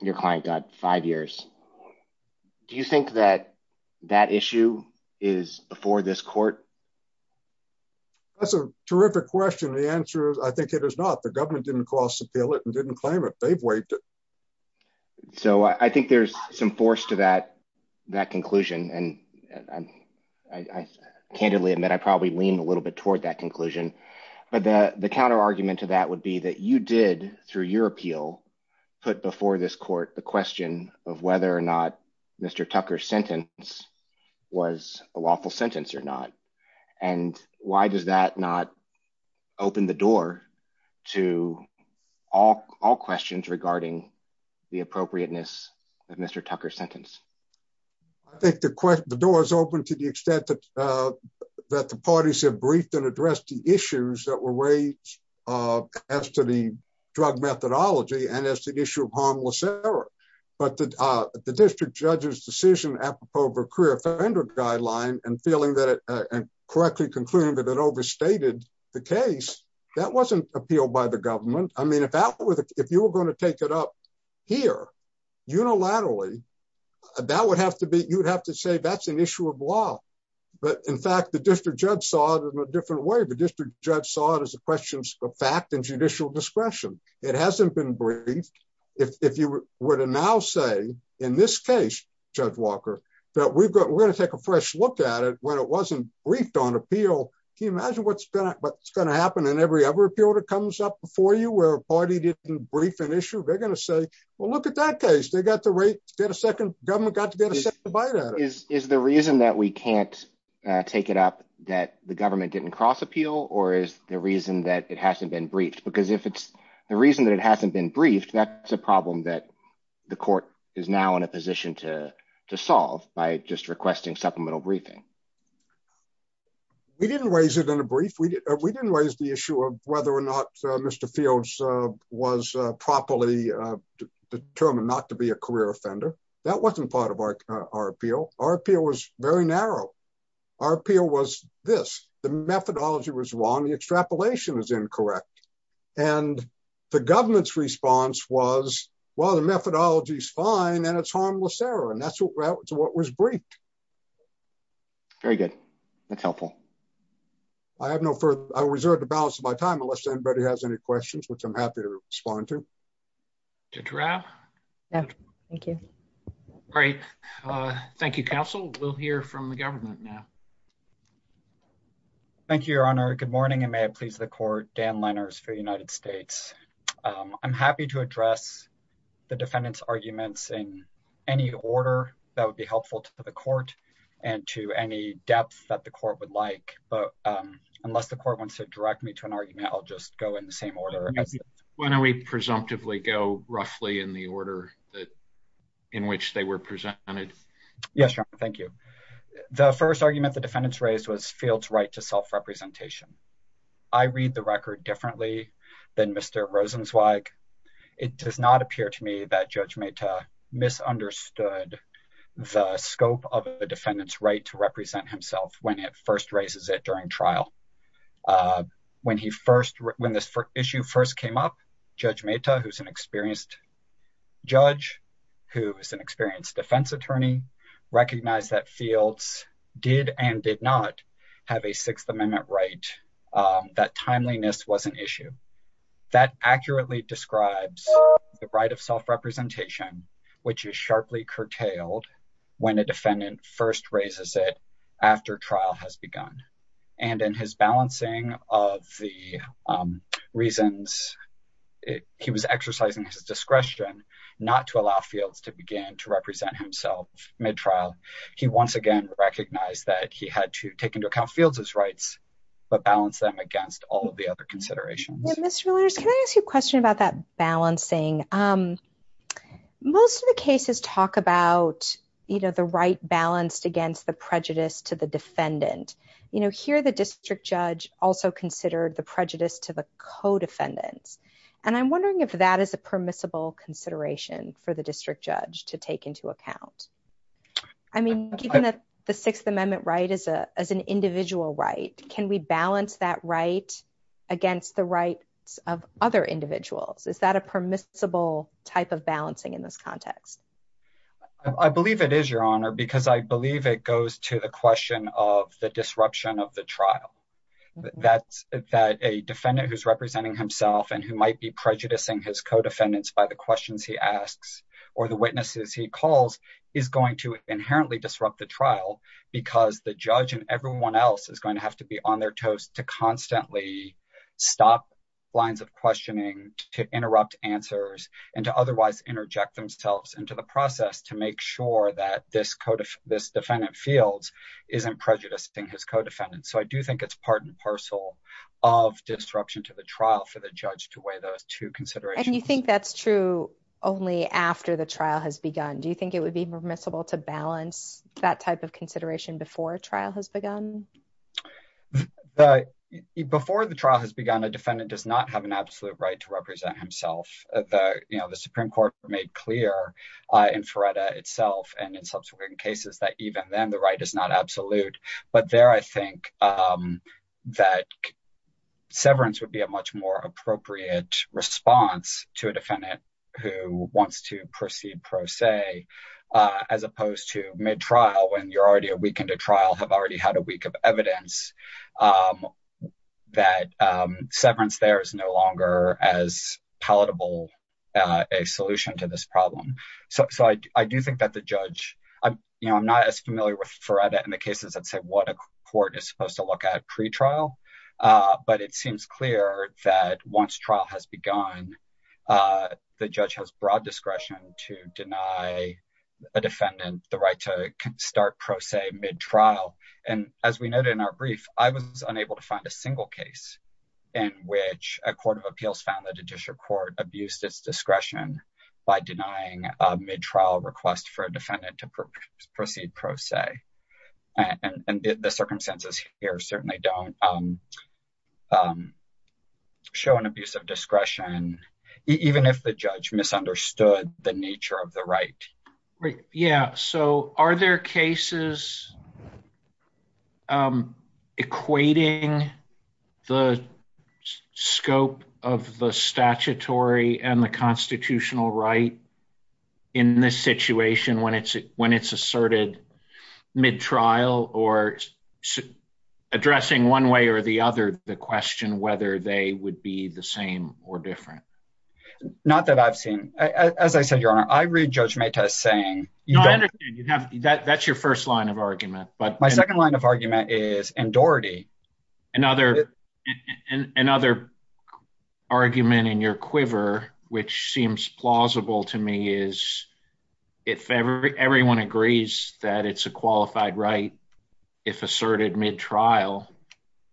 Your client got five years. Do you think that that issue is before this court? That's a terrific question. The answer is I think it is not. The government didn't cross appeal it and didn't claim it. They've waived it. So I think there's some force to that conclusion. And I candidly admit I probably lean a little bit toward that conclusion. But the counter argument to that would be that you did, through your appeal, put before this court the question of whether or not Mr. Tucker's sentence was a lawful sentence or not. And why does that not open the door to all questions regarding the appropriateness of Mr. Tucker's sentence? I think the door is open to the extent that the parties have briefed and addressed the issues that were raised as to the drug methodology and as the issue of harmless error. But the district judge's decision apropos of a career offender guideline and feeling that and correctly concluding that it overstated the case, that wasn't appealed by the government. If you were going to take it up here unilaterally, you'd have to say that's an issue of law. But in fact, the district judge saw it in a different way. The district judge saw it as a question of fact and judicial discretion. It hasn't been briefed. If you were to now say in this case, Judge Walker, that we're going to take a fresh look at it when it wasn't briefed on appeal, can you imagine what's going to happen in every other appeal that comes up before you where a party didn't brief an issue? They're going to say, well, look at that case. They got the right to get a second. The government got to get a second bite out of it. Is the reason that we can't take it up that the government didn't cross appeal or is the reason that it hasn't been briefed? Because if it's the reason that it hasn't been briefed, that's a problem that the court is now in a position to solve by just requesting supplemental briefing. We didn't raise it in a brief. We didn't raise the issue of whether or not Mr. Fields was properly determined not to be a career offender. That wasn't part of our appeal. Our appeal was very narrow. Our appeal was this. The methodology was wrong. The extrapolation was incorrect. And the government's response was, well, the methodology is fine and it's harmless error. And that's what was briefed. Very good. That's helpful. I have no further. I reserve the balance of my time unless anybody has any questions, which I'm happy to respond to. To draft. Thank you. All right. Thank you, counsel. We'll hear from the government now. Thank you, Your Honor. Good morning. Dan Lenners for the United States. I'm happy to address the defendant's arguments in any order that would be helpful to the court and to any depth that the court would like. But unless the court wants to direct me to an argument, I'll just go in the same order. When do we presumptively go roughly in the order in which they were presented? Yes. Thank you. The first argument the defendants raised was field's right to self-representation. I read the record differently than Mr. Rosenzweig. It does not appear to me that Judge Mehta misunderstood the scope of the defendant's right to represent himself when it first raises it during trial. When he first when this issue first came up, Judge Mehta, who's an experienced judge, who is an experienced defense attorney, recognized that field did and did not have a Sixth Amendment right. That timeliness was an issue that accurately describes the right of self-representation, which is sharply curtailed when a defendant first raises it after trial has begun. And in his balancing of the reasons, he was exercising discretion not to allow field to begin to represent himself mid-trial. He once again recognized that he had to take into account field's rights, but balance them against all of the other considerations. Can I ask you a question about that balancing? Most of the cases talk about, you know, the right balanced against the prejudice to the defendant. You know, here the district judge also considered the prejudice to the co-defendant. And I'm wondering if that is a permissible consideration for the district judge to take into account. I mean, given that the Sixth Amendment right is an individual right, can we balance that right against the rights of other individuals? Is that a permissible type of balancing in this context? I believe it is, Your Honor, because I believe it goes to the question of the disruption of the trial. That a defendant who's representing himself and who might be prejudicing his co-defendants by the questions he asks or the witnesses he calls is going to inherently disrupt the trial because the judge and everyone else is going to have to be on their toes to constantly stop lines of questioning, to interrupt answers, and to otherwise interject themselves into the process to make sure that this defendant field isn't prejudicing his co-defendants. So I do think it's part and parcel of disruption to the trial for the judge to weigh those two considerations. And you think that's true only after the trial has begun? Do you think it would be permissible to balance that type of consideration before a trial has begun? Before the trial has begun, a defendant does not have an absolute right to represent himself. The Supreme Court made clear in Feretta itself and in subsequent cases that even then the right is not absolute. But there I think that severance would be a much more appropriate response to a defendant who wants to proceed pro se as opposed to mid-trial when you're already a week into trial, have already had a week of evidence, that severance there is no longer as palatable a solution to this problem. So I do think that the judge, you know, I'm not as familiar with Feretta in the cases that say what a court is supposed to look at pre-trial. But it seems clear that once trial has begun, the judge has broad discretion to deny a defendant the right to start pro se mid-trial. And as we noted in our brief, I was unable to find a single case in which a court of appeals found that a judicial court abused its discretion by denying a mid-trial request for a defendant to proceed pro se. And the circumstances here certainly don't show an abuse of discretion, even if the judge misunderstood the nature of the right. Yeah, so are there cases equating the scope of the statutory and the constitutional right in this situation when it's asserted mid-trial or addressing one way or the other the question whether they would be the same or different? Not that I've seen. As I said, Your Honor, I read Judge Metas saying… No, I understand. That's your first line of argument. My second line of argument is in Doherty. Another argument in your quiver, which seems plausible to me, is if everyone agrees that it's a qualified right if asserted mid-trial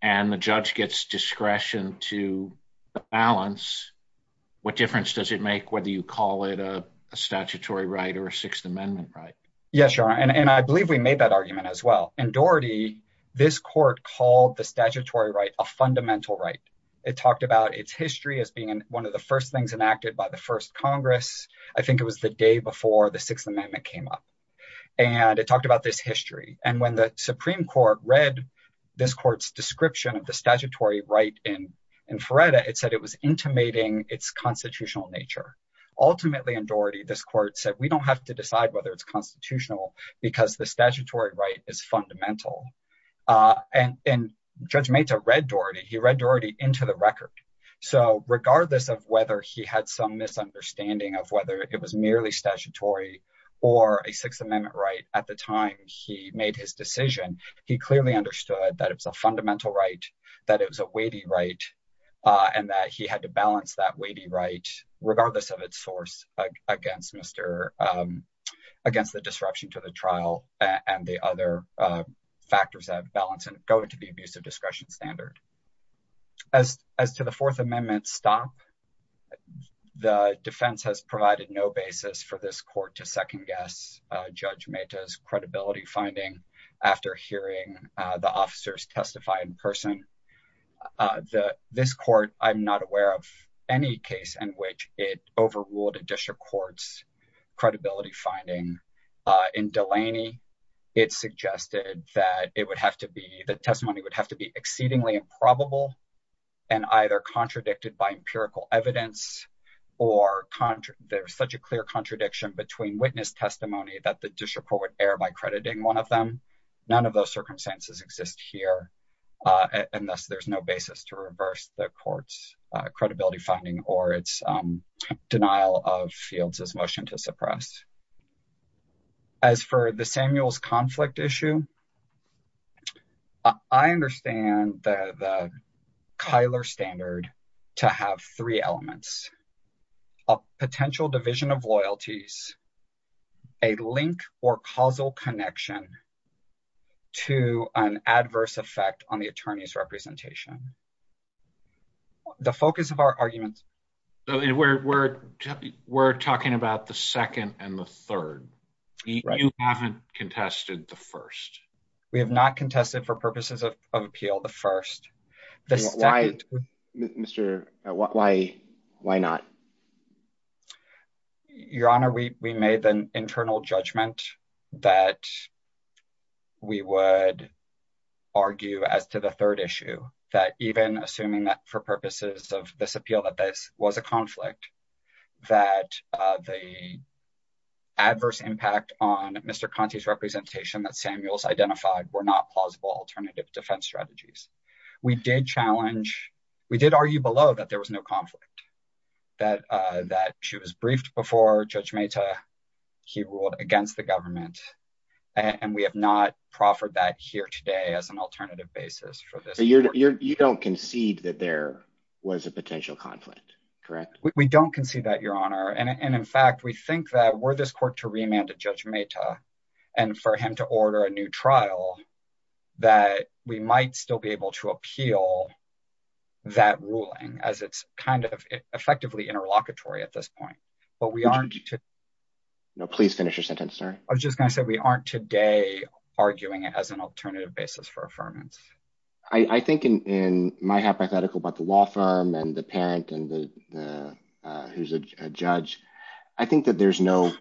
and the judge gets discretion to balance, what difference does it make whether you call it a statutory right or a Sixth Amendment right? Yes, Your Honor, and I believe we made that argument as well. In Doherty, this court called the statutory right a fundamental right. It talked about its history as being one of the first things enacted by the first Congress. I think it was the day before the Sixth Amendment came up. And it talked about this history. And when the Supreme Court read this court's description of the statutory right in Feretta, it said it was intimating its constitutional nature. Ultimately, in Doherty, this court said we don't have to decide whether it's constitutional because the statutory right is fundamental. And Judge Meta read Doherty. He read Doherty into the record. So regardless of whether he had some misunderstanding of whether it was merely statutory or a Sixth Amendment right at the time he made his decision, he clearly understood that it's a fundamental right, that it was a weighty right, and that he had to balance that weighty right, regardless of its source, against the disruption to the trial and the other factors. That balance is going to be abuse of discretion standard. As to the Fourth Amendment's stop, the defense has provided no basis for this court to second guess Judge Meta's credibility finding after hearing the officers testify in person. This court, I'm not aware of any case in which it overruled a district court's credibility finding. In Delaney, it suggested that the testimony would have to be exceedingly improbable and either contradicted by empirical evidence or there's such a clear contradiction between witness testimony that the district court would err by crediting one of them. None of those circumstances exist here, and thus there's no basis to reverse the court's credibility finding or its denial of Fields' motion to suppress. As for the Samuel's conflict issue, I understand the Kyler standard to have three elements, a potential division of loyalties, a link or causal connection to an adverse effect on the attorney's representation. The focus of our argument. We're talking about the second and the third. You haven't contested the first. We have not contested for purposes of appeal the first. Why not? Your Honor, we made an internal judgment that we would argue as to the third issue that even assuming that for purposes of this appeal that this was a conflict that the adverse impact on Mr. Samuel's identified were not plausible alternative defense strategies. We did argue below that there was no conflict, that she was briefed before Judge Mata, he ruled against the government, and we have not proffered that here today as an alternative basis for this court. You don't concede that there was a potential conflict, correct? We don't concede that, Your Honor. And in fact, we think that were this court to remand to Judge Mata and for him to order a new trial, that we might still be able to appeal that ruling as it's kind of effectively interlocutory at this point. But we aren't. Please finish your sentence, sir. I was just going to say we aren't today arguing it as an alternative basis for affirmance. I think in my hypothetical about the law firm and the parent and who's a judge, I think that there's no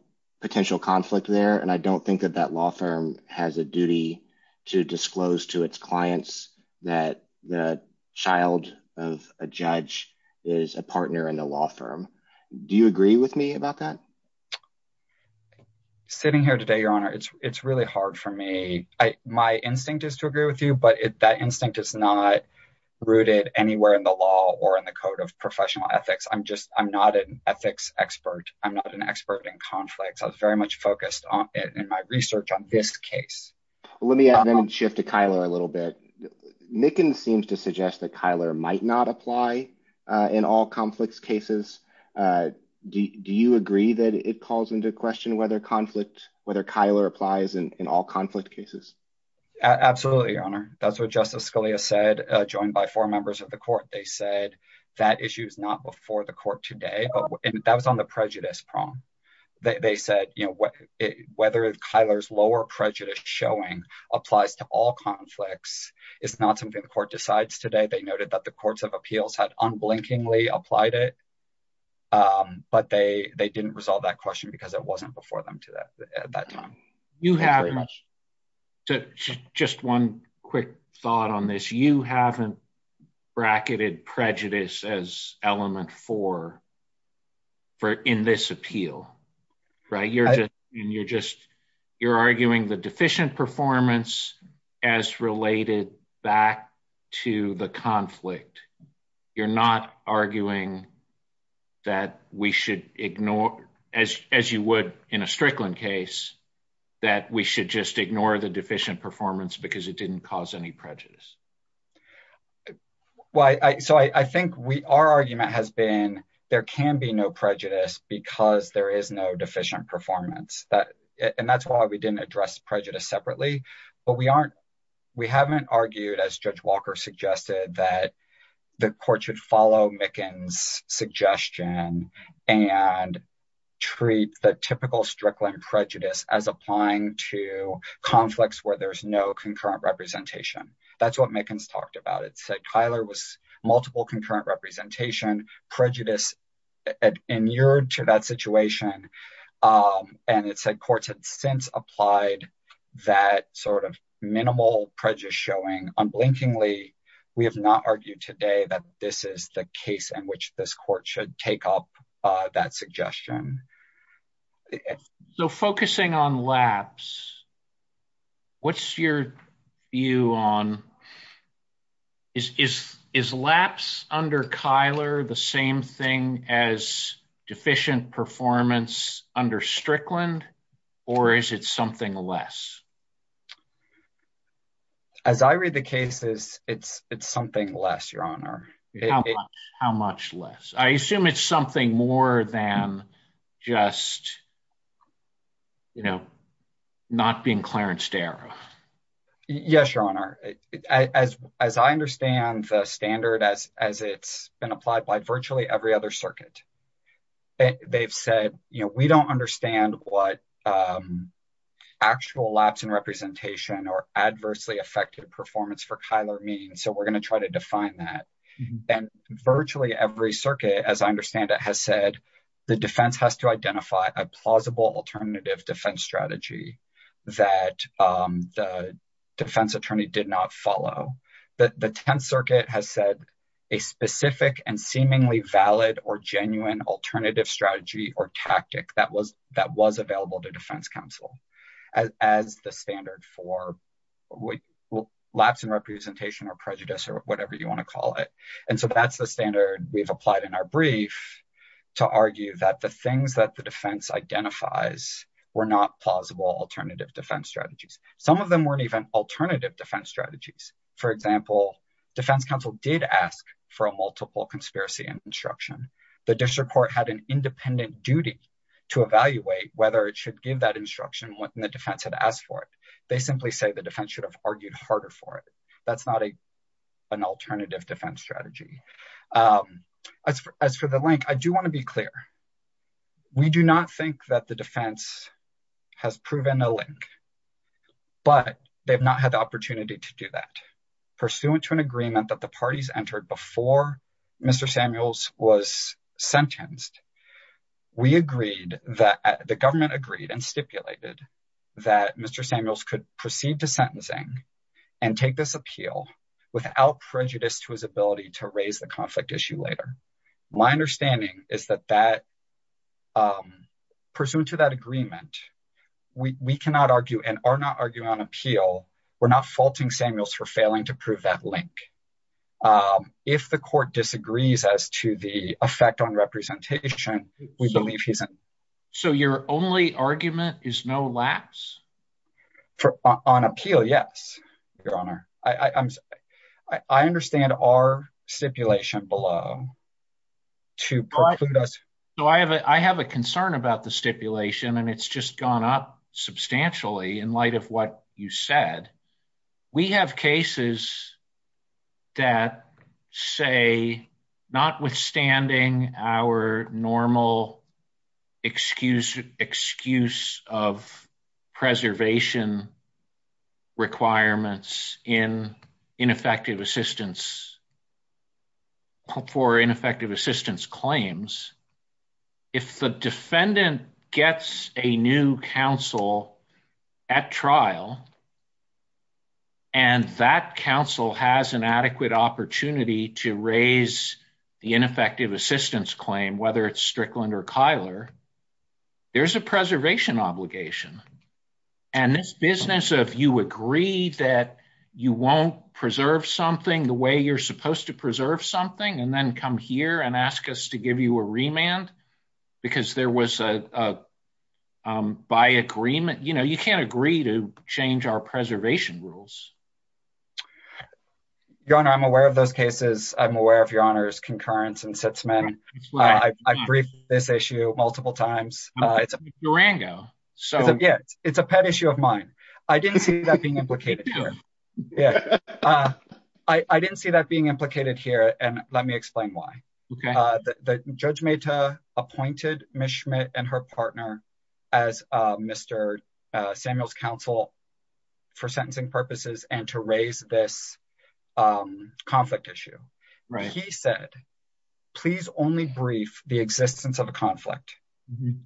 potential conflict there. And I don't think that that law firm has a duty to disclose to its clients that the child of a judge is a partner in the law firm. Do you agree with me about that? Sitting here today, Your Honor, it's really hard for me. My instinct is to agree with you, but that instinct is not rooted anywhere in the law or in the code of professional ethics. I'm not an ethics expert. I'm not an expert in conflict. I was very much focused on it in my research on this case. Let me shift to Kyler a little bit. Mickens seems to suggest that Kyler might not apply in all conflicts cases. Do you agree that it calls into question whether conflict, whether Kyler applies in all conflict cases? Absolutely, Your Honor. That's what Justice Scalia said, joined by four members of the court. They said that issue is not before the court today. That was on the prejudice prong. They said, you know, whether Kyler's lower prejudice showing applies to all conflicts is not something the court decides today. They noted that the courts of appeals had unblinkingly applied it, but they didn't resolve that question because it wasn't before them at that time. Just one quick thought on this. You haven't bracketed prejudice as element four in this appeal, right? You're arguing the deficient performance as related back to the conflict. You're not arguing that we should ignore, as you would in a Strickland case, that we should just ignore the deficient performance because it didn't cause any prejudice. Well, I think our argument has been there can be no prejudice because there is no deficient performance. And that's why we didn't address prejudice separately. But we haven't argued, as Judge Walker suggested, that the court should follow Mickens' suggestion and treat the typical Strickland prejudice as applying to conflicts where there's no concurrent representation. That's what Mickens talked about. It said Kyler was multiple concurrent representation. Prejudice inured to that situation. And it said courts had since applied that sort of minimal prejudice showing unblinkingly. We have not argued today that this is the case in which this court should take up that suggestion. So focusing on lapse. What's your view on is lapse under Kyler the same thing as deficient performance under Strickland? Or is it something less? As I read the cases, it's something less, Your Honor. How much less? I assume it's something more than just, you know, not being Clarence Darrow. Yes, Your Honor. As I understand the standard as it's been applied by virtually every other circuit, they've said, you know, we don't understand what actual lapse in representation or adversely affected performance for Kyler means. So we're going to try to define that. And virtually every circuit, as I understand it, has said the defense has to identify a plausible alternative defense strategy that the defense attorney did not follow. The 10th Circuit has said a specific and seemingly valid or genuine alternative strategy or tactic that was available to defense counsel as the standard for lapse in representation or prejudice or whatever you want to call it. And so that's the standard we've applied in our brief to argue that the things that the defense identifies were not plausible alternative defense strategies. Some of them weren't even alternative defense strategies. For example, defense counsel did ask for a multiple conspiracy and construction. The district court had an independent duty to evaluate whether it should give that instruction when the defense had asked for it. They simply say the defense should have argued harder for it. That's not an alternative defense strategy. As for the link, I do want to be clear. We do not think that the defense has proven a link. But they've not had the opportunity to do that. Pursuant to an agreement that the parties entered before Mr. Samuels was sentenced, the government agreed and stipulated that Mr. Samuels could proceed to sentencing and take this appeal without prejudice to his ability to raise the conflict issue later. My understanding is that that, pursuant to that agreement, we cannot argue and are not arguing on appeal. We're not faulting Samuels for failing to prove that link. If the court disagrees as to the effect on representation, we believe he's in. So your only argument is no lapse? On appeal, yes, Your Honor. I understand our stipulation below. I have a concern about the stipulation and it's just gone up substantially in light of what you said. We have cases that say, notwithstanding our normal excuse of preservation requirements for ineffective assistance claims, if the defendant gets a new counsel at trial and that counsel has an adequate opportunity to raise the ineffective assistance claim, whether it's Strickland or Kyler, there's a preservation obligation. And this business of you agree that you won't preserve something the way you're supposed to preserve something and then come here and ask us to give you a remand because there was a by agreement, you know, you can't agree to change our preservation rules. Your Honor, I'm aware of those cases. I'm aware of Your Honor's concurrence and sits men. I agree with this issue multiple times. Durango. It's a pet issue of mine. I didn't see that being implicated here. I didn't see that being implicated here and let me explain why. Judge Mata appointed Ms. Schmidt and her partner as Mr. Samuel's counsel for sentencing purposes and to raise this conflict issue. He said, please only brief the existence of the conflict.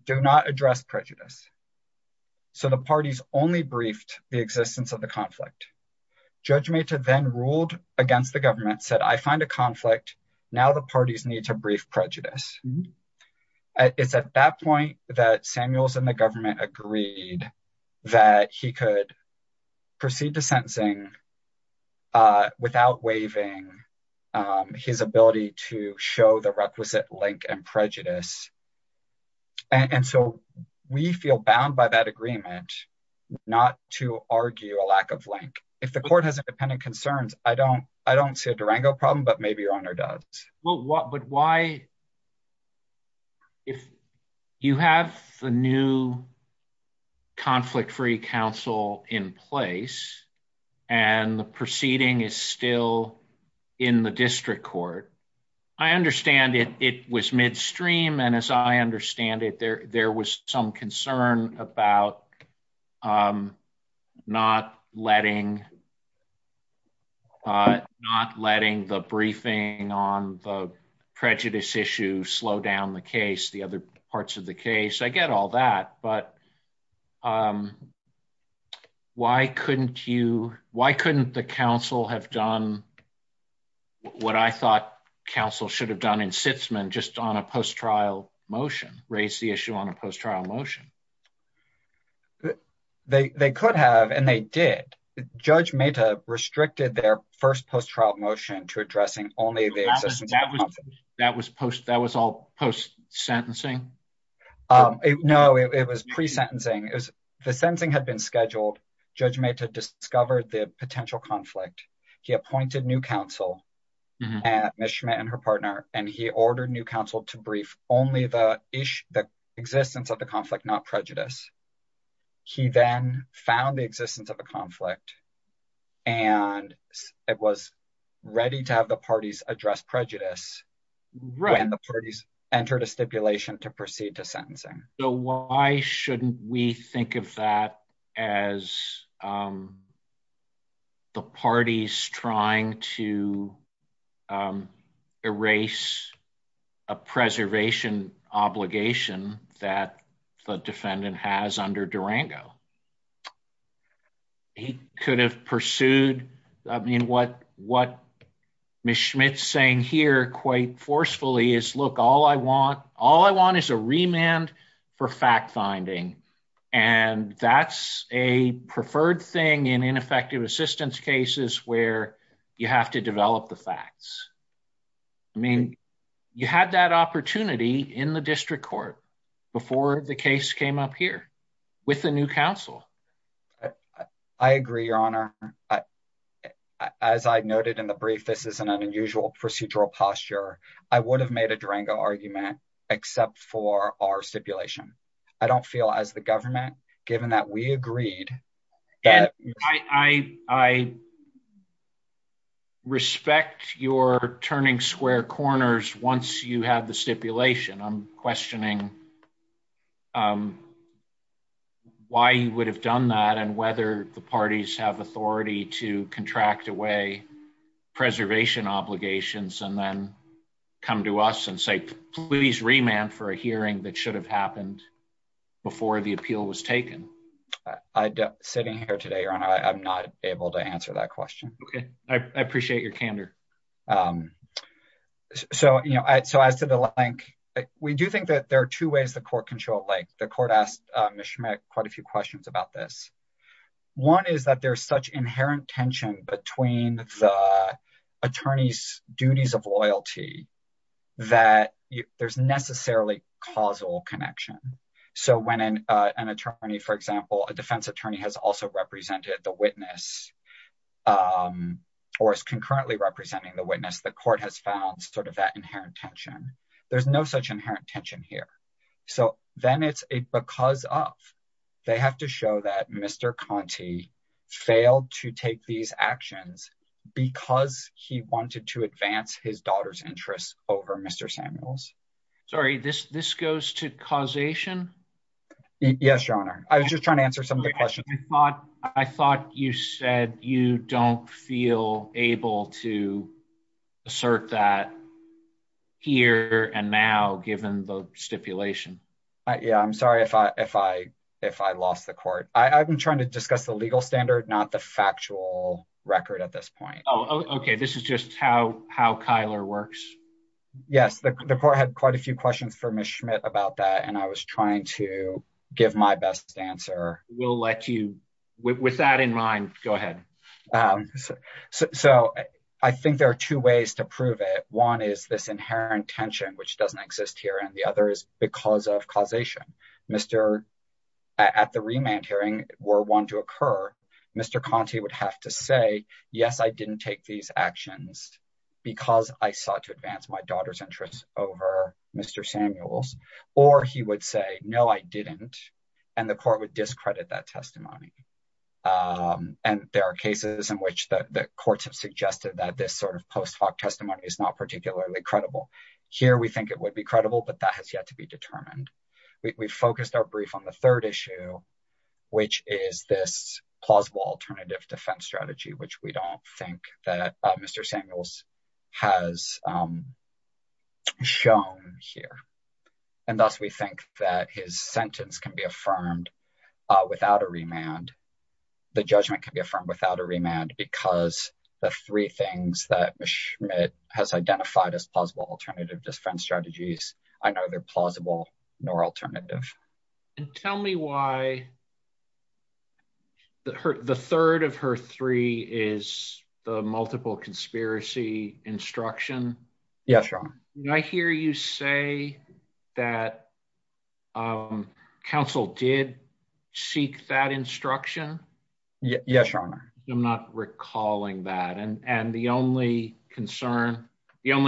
Do not address prejudice. So the parties only briefed the existence of the conflict. Judge Mata then ruled against the government, said, I find a conflict. Now the parties need to brief prejudice. It's at that point that Samuels and the government agreed that he could proceed to sentencing without waiving his ability to show the requisite link and prejudice. And so we feel bound by that agreement, not to argue a lack of link. If the court has independent concerns, I don't see a Durango problem, but maybe Your Honor does. But why, if you have the new conflict-free counsel in place and the proceeding is still in the district court, I understand it was midstream. And as I understand it, there was some concern about not letting the briefing on the prejudice issue slow down the case, the other parts of the case. I get all that, but why couldn't you, why couldn't the counsel have done what I thought counsel should have done in Sitzman just on a post-trial motion, raise the issue on a post-trial motion? They could have, and they did. Judge Mata restricted their first post-trial motion to addressing only the existence of the conflict. That was all post-sentencing? No, it was pre-sentencing. The sentencing had been scheduled. Judge Mata discovered the potential conflict. He appointed new counsel, Ms. Schmidt and her partner, and he ordered new counsel to brief only the existence of the conflict, not prejudice. He then found the existence of the conflict, and it was ready to have the parties address prejudice, and the parties entered a stipulation to proceed to sentencing. So why shouldn't we think of that as the parties trying to erase a preservation obligation that the defendant has under Durango? He could have pursued, I mean, what Ms. Schmidt's saying here quite forcefully is, look, all I want is a remand for fact-finding, and that's a preferred thing in ineffective assistance cases where you have to develop the facts. I mean, you had that opportunity in the district court before the case came up here with the new counsel. I agree, Your Honor. As I noted in the brief, this is an unusual procedural posture. I would have made a Durango argument except for our stipulation. I don't feel as the government, given that we agreed… I respect your turning square corners once you have the stipulation. I'm questioning why you would have done that and whether the parties have authority to contract away preservation obligations and then come to us and say, please remand for a hearing that should have happened before the appeal was taken. Sitting here today, Your Honor, I'm not able to answer that question. I appreciate your candor. So as to the link, we do think that there are two ways the court can show a link. The court asked Ms. Schmidt quite a few questions about this. One is that there's such inherent tension between the attorney's duties of loyalty that there's necessarily causal connection. So when an attorney, for example, a defense attorney has also represented the witness or is concurrently representing the witness, the court has found sort of that inherent tension. There's no such inherent tension here. So then it's a because of. They have to show that Mr. Conte failed to take these actions because he wanted to advance his daughter's interests over Mr. Samuels. Sorry, this goes to causation? Yes, Your Honor. I was just trying to answer some of the questions. I thought you said you don't feel able to assert that here and now, given the stipulation. Yeah, I'm sorry if I lost the court. I've been trying to discuss the legal standard, not the factual record at this point. Oh, okay. This is just how Kyler works. Yes, the court had quite a few questions for Ms. Schmidt about that, and I was trying to give my best answer. With that in mind, go ahead. So I think there are two ways to prove it. One is this inherent tension, which doesn't exist here, and the other is because of causation. At the remand hearing, were one to occur, Mr. Conte would have to say, yes, I didn't take these actions because I sought to advance my daughter's interests over Mr. Samuels. Or he would say, no, I didn't, and the court would discredit that testimony. And there are cases in which the courts have suggested that this sort of post hoc testimony is not particularly credible. Here, we think it would be credible, but that has yet to be determined. We focused our brief on the third issue, which is this plausible alternative defense strategy, which we don't think that Mr. Samuels has shown here. And thus, we think that his sentence can be affirmed without a remand. The judgment can be affirmed without a remand because the three things that Ms. Schmidt has identified as plausible alternative defense strategies are neither plausible nor alternative. Tell me why the third of her three is a multiple conspiracy instruction? Yes, Your Honor. Did I hear you say that counsel did seek that instruction? Yes, Your Honor. I'm not recalling that. And the only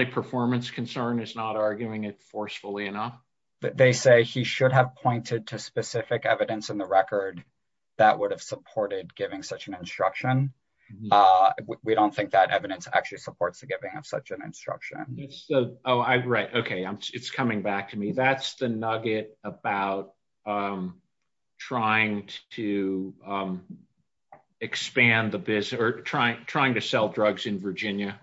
performance concern is not arguing it forcefully enough. They say he should have pointed to specific evidence in the record that would have supported giving such an instruction. We don't think that evidence actually supports giving such an instruction. Oh, right. Okay. It's coming back to me. That's the nugget about trying to expand the business or trying to sell drugs in Virginia.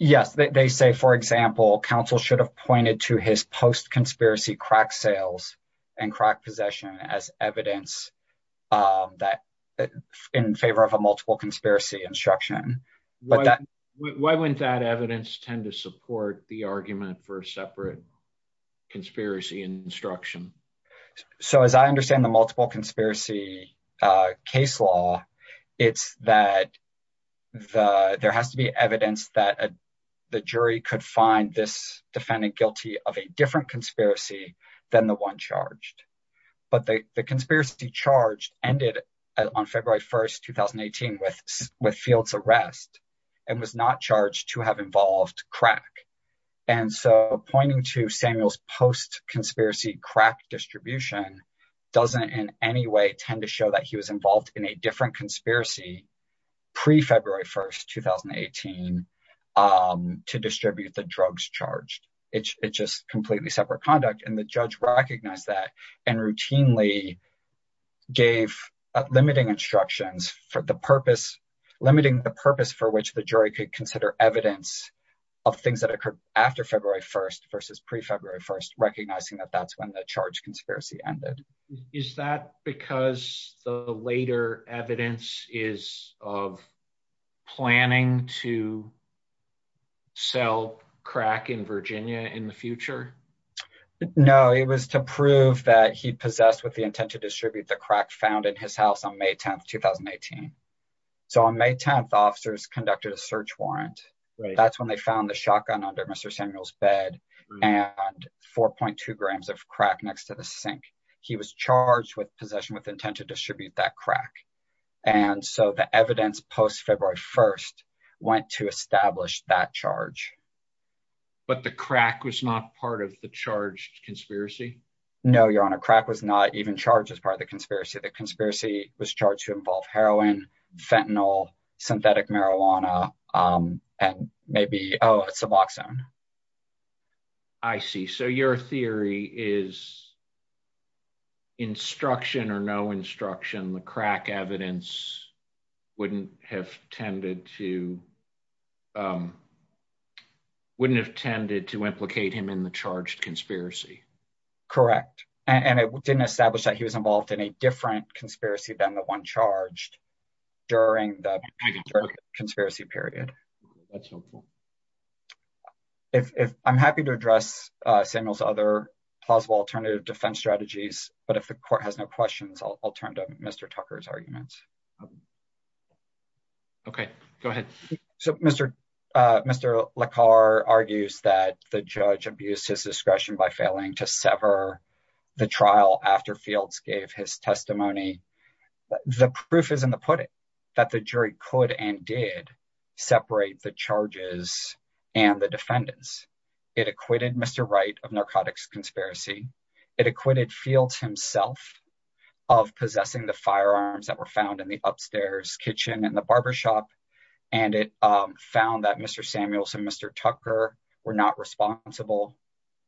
Yes. They say, for example, counsel should have pointed to his post-conspiracy crack sales and crack possession as evidence in favor of a multiple conspiracy instruction. Why wouldn't that evidence tend to support the argument for a separate conspiracy instruction? So, as I understand the multiple conspiracy case law, it's that there has to be evidence that the jury could find this defendant guilty of a different conspiracy than the one charged. But the conspiracy charge ended on February 1st, 2018 with field's arrest and was not charged to have involved crack. And so pointing to Samuel's post-conspiracy crack distribution doesn't in any way tend to show that he was involved in a different conspiracy pre-February 1st, 2018 to distribute the drugs charged. It's just completely separate conduct. And the judge recognized that and routinely gave limiting instructions for the purpose, limiting the purpose for which the jury could consider evidence of things that occurred after February 1st versus pre-February 1st, recognizing that that's when the charge conspiracy ended. Is that because the later evidence is of planning to sell crack in Virginia in the future? No, it was to prove that he possessed with the intent to distribute the crack found in his house on May 10th, 2018. So, on May 10th, officers conducted a search warrant. That's when they found the shotgun under Mr. Samuel's bed and 4.2 grams of crack next to the sink. He was charged with possession with intent to distribute that crack. And so the evidence post-February 1st went to establish that charge. But the crack was not part of the charge conspiracy? No, Your Honor, crack was not even charged as part of the conspiracy. The conspiracy was charged to involve heroin, fentanyl, synthetic marijuana, and maybe suboxone. I see. So your theory is instruction or no instruction, the crack evidence wouldn't have tended to wouldn't have tended to implicate him in the charge conspiracy. Correct. And it didn't establish that he was involved in a different conspiracy than the one charged during the conspiracy period. I'm happy to address Samuel's other possible alternative defense strategies, but if the court has no questions, I'll turn to Mr. Tucker's arguments. Okay, go ahead. So, Mr. Lekar argues that the judge abused his discretion by failing to sever the trial after Fields gave his testimony. The proof is in the pudding that the jury could and did separate the charges and the defendants. It acquitted Mr. Wright of narcotics conspiracy. It acquitted Fields himself of possessing the firearms that were found in the upstairs kitchen and the barbershop. And it found that Mr. Samuels and Mr. Tucker were not responsible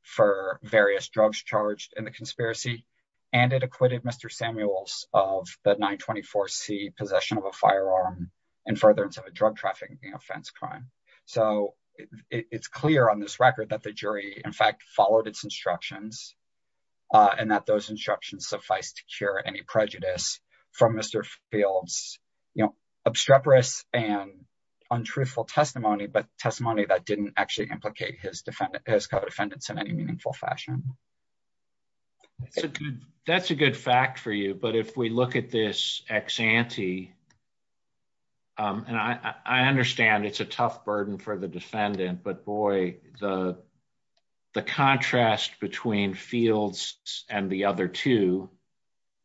for various drugs charged in the conspiracy. And it acquitted Mr. Samuels of the 924C possession of a firearm and further drug trafficking offense crime. So, it's clear on this record that the jury, in fact, followed its instructions. And that those instructions suffice to cure any prejudice from Mr. Fields, you know, obstreperous and untruthful testimony, but testimony that didn't actually implicate his defendant, his co-defendants in any meaningful fashion. That's a good fact for you, but if we look at this ex-ante, and I understand it's a tough burden for the defendant, but boy, the contrast between Fields and the other two,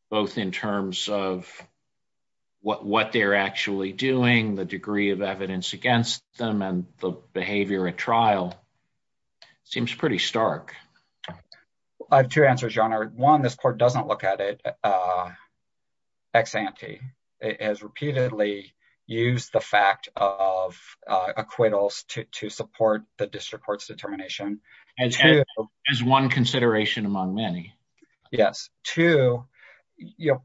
both in terms of what they're actually doing, the degree of evidence against them, and the behavior at trial, seems pretty stark. I have two answers, John. One, this court doesn't look at it ex-ante. It has repeatedly used the fact of acquittals to support the district court's determination. As one consideration among many. Yes. Two,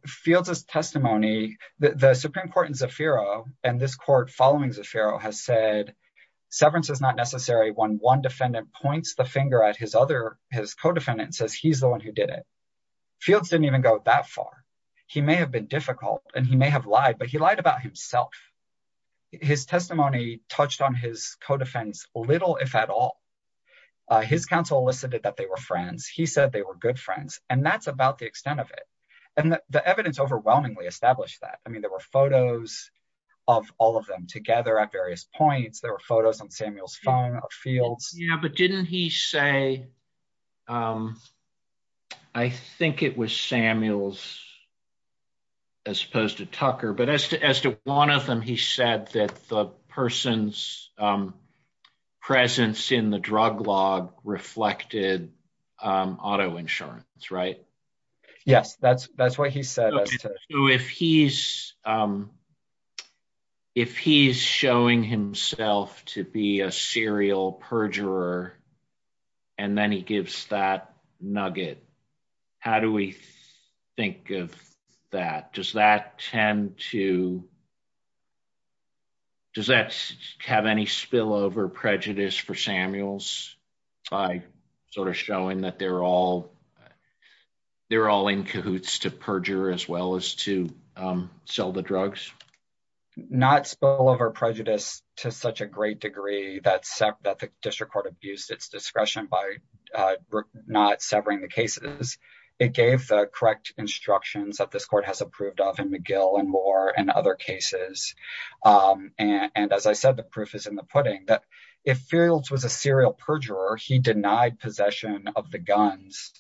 Fields' testimony, the Supreme Court in Zafiro, and this court following Zafiro, has said severance is not necessary when one defendant points the finger at his other, his co-defendant, and says he's the one who did it. Fields didn't even go that far. He may have been difficult, and he may have lied, but he lied about himself. His testimony touched on his co-defendants a little, if at all. His counsel elicited that they were friends. He said they were good friends, and that's about the extent of it. And the evidence overwhelmingly established that. I mean, there were photos of all of them together at various points. There were photos on Samuel's phone of Fields. Yeah, but didn't he say, I think it was Samuel's as opposed to Tucker, but as to one of them, he said that the person's presence in the drug log reflected auto insurance, right? Yes, that's what he said. So if he's showing himself to be a serial perjurer, and then he gives that nugget, how do we think of that? Does that tend to – does that have any spillover prejudice for Samuels by sort of showing that they're all in cahoots to perjure as well? As to sell the drugs? Not spillover prejudice to such a great degree that the district court abused its discretion by not severing the cases. It gave the correct instructions that this court has approved of in McGill and Moore and other cases. And as I said, the proof is in the pudding that if Fields was a serial perjurer, he denied possession of the guns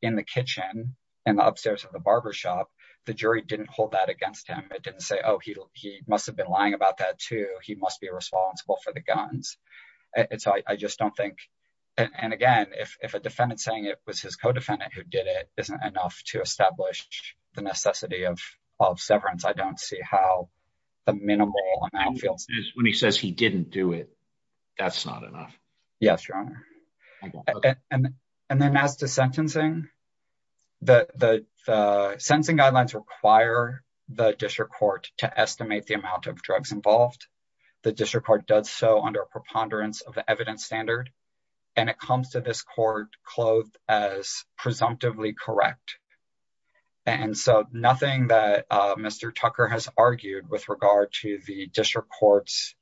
in the kitchen and upstairs at the barbershop, the jury didn't hold that against him. It didn't say, oh, he must have been lying about that too. He must be responsible for the guns. I just don't think – and again, if a defendant saying it was his co-defendant who did it isn't enough to establish the necessity of severance, I don't see how the minimal amount – When he says he didn't do it, that's not enough. Yes, Your Honor. And then as to sentencing, the sentencing guidelines require the district court to estimate the amount of drugs involved. The district court does so under a preponderance of the evidence standard, and it comes to this court clothed as presumptively correct. And so nothing that Mr. Tucker has argued with regard to the district court's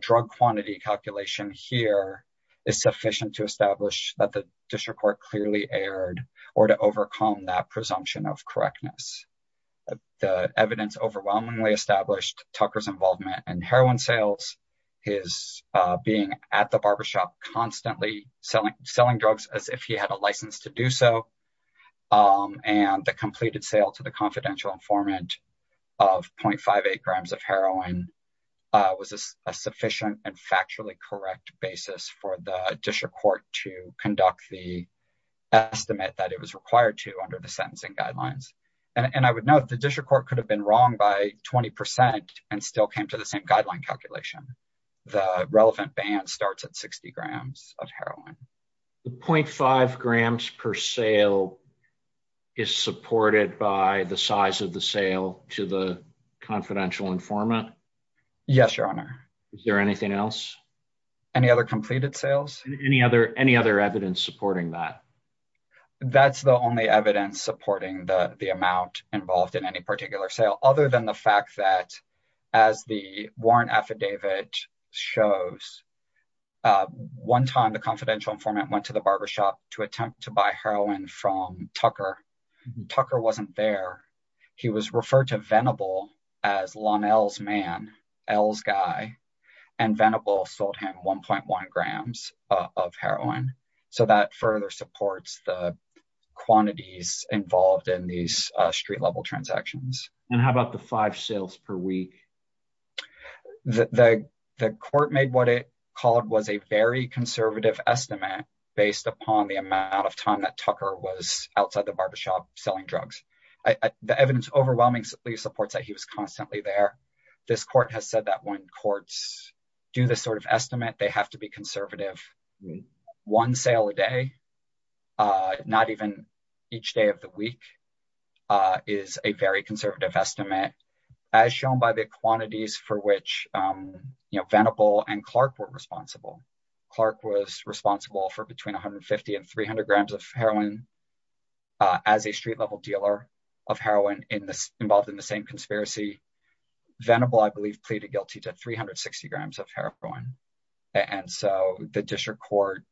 drug quantity calculation here is sufficient to establish that the district court clearly erred or to overcome that presumption of correctness. The evidence overwhelmingly established Tucker's involvement in heroin sales, his being at the barbershop constantly selling drugs as if he had a license to do so, and the completed sale to the confidential informant of 0.58 grams of heroin was a sufficient and factually correct basis for the district court to conduct the estimate that it was required to under the sentencing guidelines. And I would note the district court could have been wrong by 20% and still came to the same guideline calculation. The relevant band starts at 60 grams of heroin. 0.5 grams per sale is supported by the size of the sale to the confidential informant? Yes, Your Honor. Is there anything else? Any other completed sales? Any other evidence supporting that? That's the only evidence supporting the amount involved in any particular sale, other than the fact that, as the warrant affidavit shows, one time the confidential informant went to the barbershop to attempt to buy heroin from Tucker. Tucker wasn't there. He was referred to Venable as Lonel's man, El's guy, and Venable sold him 1.1 grams of heroin. So that further supports the quantities involved in these street-level transactions. And how about the five sales per week? The court made what it called was a very conservative estimate based upon the amount of time that Tucker was outside the barbershop selling drugs. The evidence overwhelmingly supports that he was constantly there. This court has said that when courts do this sort of estimate, they have to be conservative. One sale a day, not even each day of the week, is a very conservative estimate, as shown by the quantities for which Venable and Clark were responsible. Clark was responsible for between 150 and 300 grams of heroin as a street-level dealer of heroin involved in the same conspiracy. Venable, I believe, pleaded guilty to 360 grams of heroin. And so the district court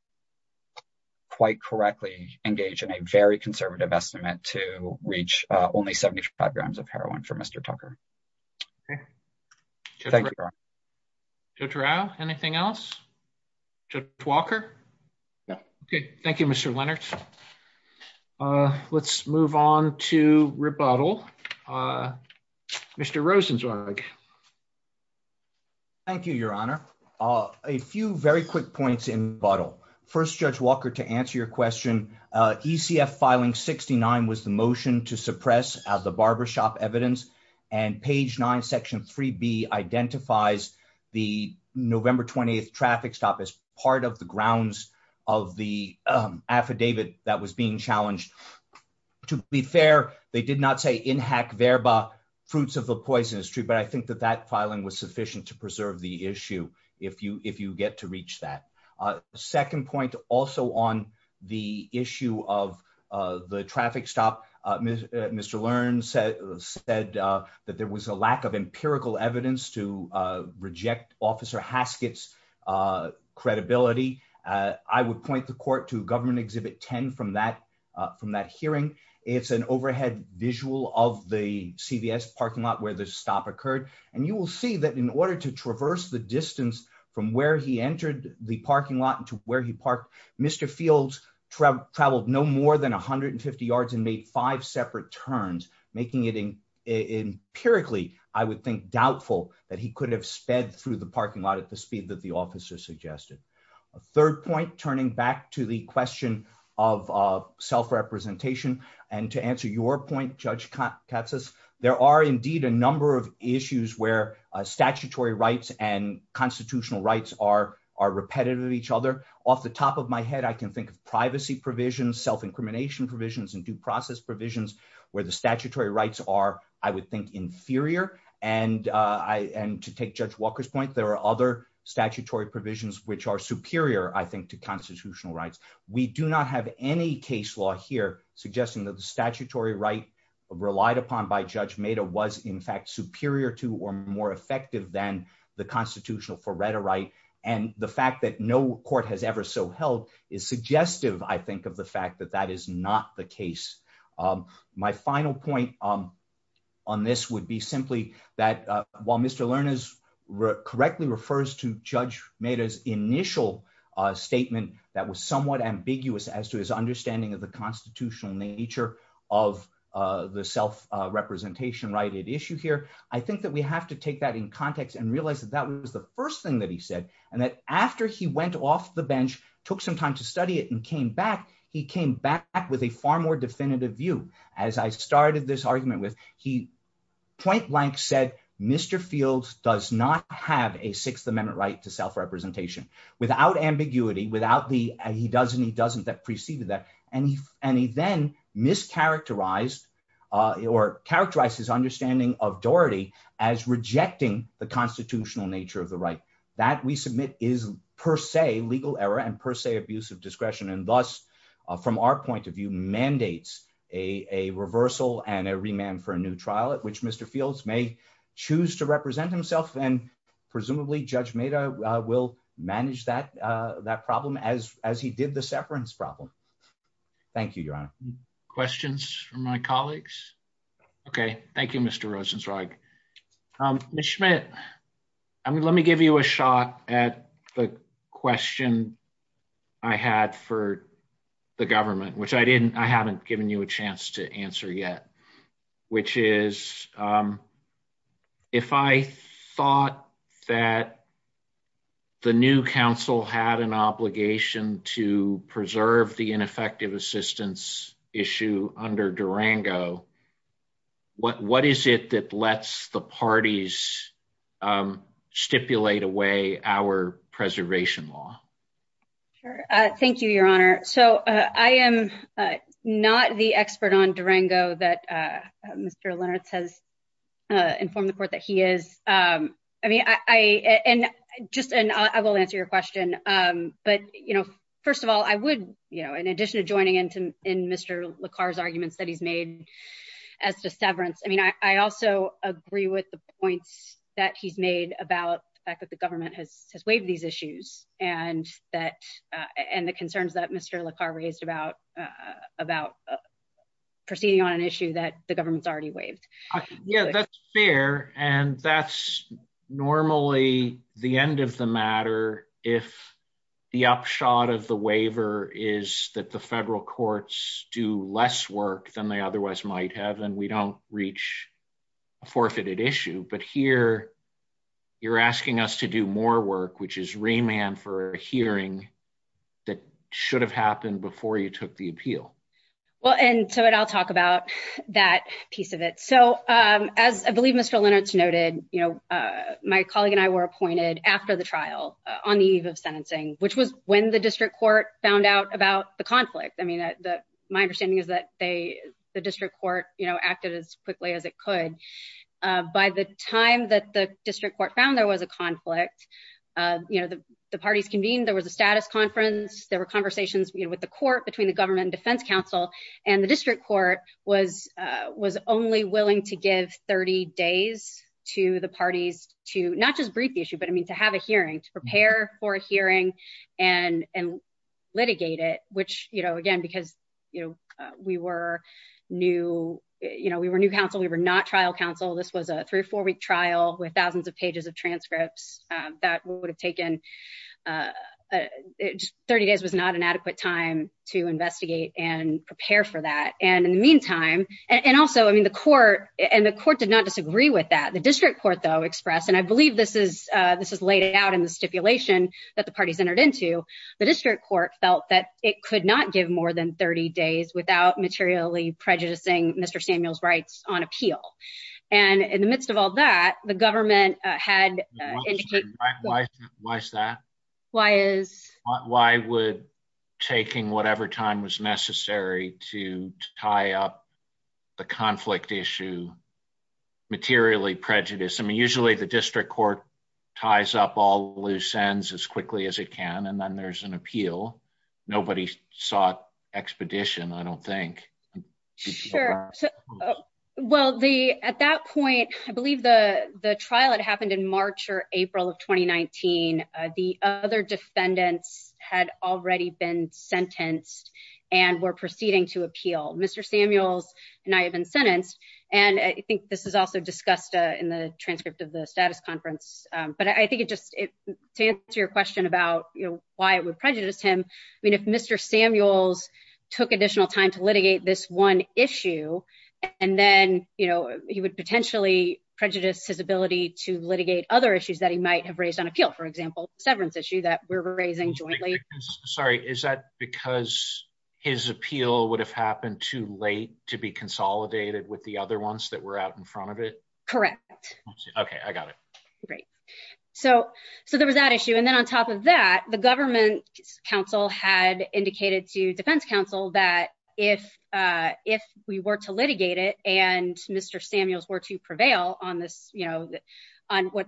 quite correctly engaged in a very conservative estimate to reach only 75 grams of heroin for Mr. Tucker. Okay. Thank you, Ron. Judge Rao, anything else? Judge Walker? Okay. Thank you, Mr. Leonard. Let's move on to rebuttal. Mr. Rosenzweig. Thank you, Your Honor. A few very quick points in rebuttal. First, Judge Walker, to answer your question, ECF filing 69 was the motion to suppress as a barbershop evidence, and page 9, section 3B identifies the November 28th traffic stop as part of the grounds of the affidavit that was being challenged. To be fair, they did not say, in hac verba, fruits of the poisonous tree, but I think that that filing was sufficient to preserve the issue if you get to reach that. Second point, also on the issue of the traffic stop, Mr. Learns said that there was a lack of empirical evidence to reject Officer Haskett's credibility. I would point the court to Government Exhibit 10 from that hearing. It's an overhead visual of the CVS parking lot where the stop occurred, and you will see that in order to traverse the distance from where he entered the parking lot to where he parked, Mr. Fields traveled no more than 150 yards and made five separate turns, making it empirically, I would think, doubtful that he could have sped through the parking lot at the speed that the officer suggested. Third point, turning back to the question of self-representation, and to answer your point, Judge Katsas, there are indeed a number of issues where statutory rights and constitutional rights are repetitive to each other. Off the top of my head, I can think of privacy provisions, self-incrimination provisions, and due process provisions where the statutory rights are, I would think, inferior, and to take Judge Walker's point, there are other statutory provisions which are superior, I think, to constitutional rights. We do not have any case law here suggesting that the statutory right relied upon by Judge Maida was, in fact, superior to or more effective than the constitutional Coretta right, and the fact that no court has ever so held is suggestive, I think, of the fact that that is not the case. My final point on this would be simply that while Mr. Lerner correctly refers to Judge Maida's initial statement that was somewhat ambiguous as to his understanding of the constitutional nature of the self-representation-righted issue here, I think that we have to take that in context and realize that that was the first thing that he said, and that after he went off the bench, took some time to study it, and came back, he came back with a far more definitive statement. As I started this argument with, he point-blank said, Mr. Fields does not have a Sixth Amendment right to self-representation, without ambiguity, and he does and he doesn't that preceded that, and he then mischaracterized or characterized his understanding of Doherty as rejecting the constitutional nature of the right. That, we submit, is per se legal error and per se abuse of discretion, and thus, from our point of view, mandates a reversal and a remand for a new trial at which Mr. Fields may choose to represent himself, and presumably Judge Maida will manage that problem as he did the separance problem. Thank you, Your Honor. Questions from my colleagues? Okay. Thank you, Mr. Rosenzweig. Ms. Schmidt, let me give you a shot at the question I had for the government, which I haven't given you a chance to answer yet, which is, if I thought that the new counsel had an obligation to preserve the ineffective assistance issue under Durango, what is it that lets the parties stipulate away our preservation law? Thank you, Your Honor. So, I am not the expert on Durango that Mr. Lennartz has informed the court that he is. And I will answer your question. But, you know, first of all, I would, you know, in addition to joining in Mr. LaCar's arguments that he's made as to severance, I mean, I also agree with the point that he's made about the fact that the government has waived these issues and the concerns that Mr. LaCar raised about proceeding on an issue that the government's already waived. Yeah, that's fair. And that's normally the end of the matter if the upshot of the waiver is that the federal courts do less work than they otherwise might have, and we don't reach a forfeited issue. But here, you're asking us to do more work, which is remand for a hearing that should have happened before you took the appeal. Well, and so I'll talk about that piece of it. So, as I believe Mr. Lennartz noted, you know, my colleague and I were appointed after the trial on the eve of sentencing, which was when the district court found out about the conflict. I mean, my understanding is that the district court, you know, acted as quickly as it could. By the time that the district court found there was a conflict, you know, the parties convened, there was a status conference, there were conversations with the court between the government and defense counsel, and the district court was only willing to give 30 days to the parties to not just brief the issue, but I mean, to have a hearing, to prepare for a hearing and litigate it, which, you know, again, because, you know, we were new, you know, we were new counsel, we were not trial counsel, this was a three or four week trial with thousands of pages of transcripts that would have taken 30 days was not an adequate time to investigate and prepare for that. And in the meantime, and also, I mean, the court, and the court did not disagree with that. The district court, though, expressed, and I believe this is, this is laid out in the stipulation that the parties entered into, the district court felt that it could not give more than 30 days without materially prejudicing Mr. Samuel's rights on appeal. And in the midst of all that, the government had Why is that? Why is Why would taking whatever time was necessary to tie up the conflict issue materially prejudice? I mean, usually the district court ties up all loose ends as quickly as it can, and then there's an appeal. Nobody sought expedition, I don't think. Sure. Well, the at that point, I believe the the trial that happened in March or April of 2019 the other defendants had already been sentenced and we're proceeding to appeal. Mr. Samuel's not even sentenced. And I think this is also discussed in the transcript of the status conference, but I think it just, to answer your question about why it would prejudice him, I mean, if Mr. Samuel's took additional time to litigate this one issue, and then, you know, he would potentially prejudice his ability to litigate other issues that he might have raised on appeal. For example, the severance issue that we're raising jointly. Sorry, is that because his appeal would have happened too late to be consolidated with the other ones that were out in front of it. Correct. Okay, I got it. Great. So, so there was that issue. And then on top of that, the government council had indicated to defense counsel that if if we were to litigate it and Mr. Samuel's were to prevail on this, you know, was,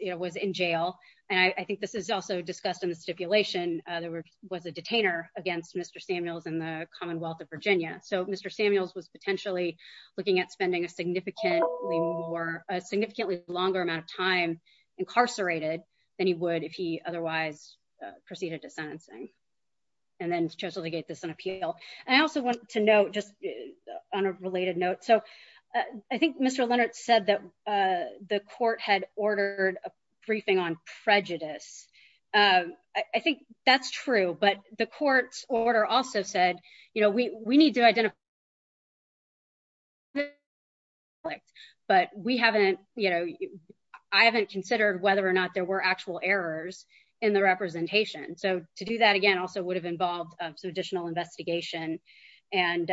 you know, was in jail. And I think this is also discussed in the stipulation. There was a detainer against Mr. Samuel's in the Commonwealth of Virginia. So Mr. Samuel's was potentially looking at spending a significantly longer amount of time incarcerated than he would if he otherwise proceeded to sentencing. And then just litigate this on appeal. I also want to note, just on a related note, so I think Mr. Leonard said that the court had ordered a briefing on prejudice. I think that's true, but the court's order also said, you know, we, we need to identify But we haven't, you know, I haven't considered whether or not there were actual errors in the representation. So to do that, again, also would have involved some additional investigation and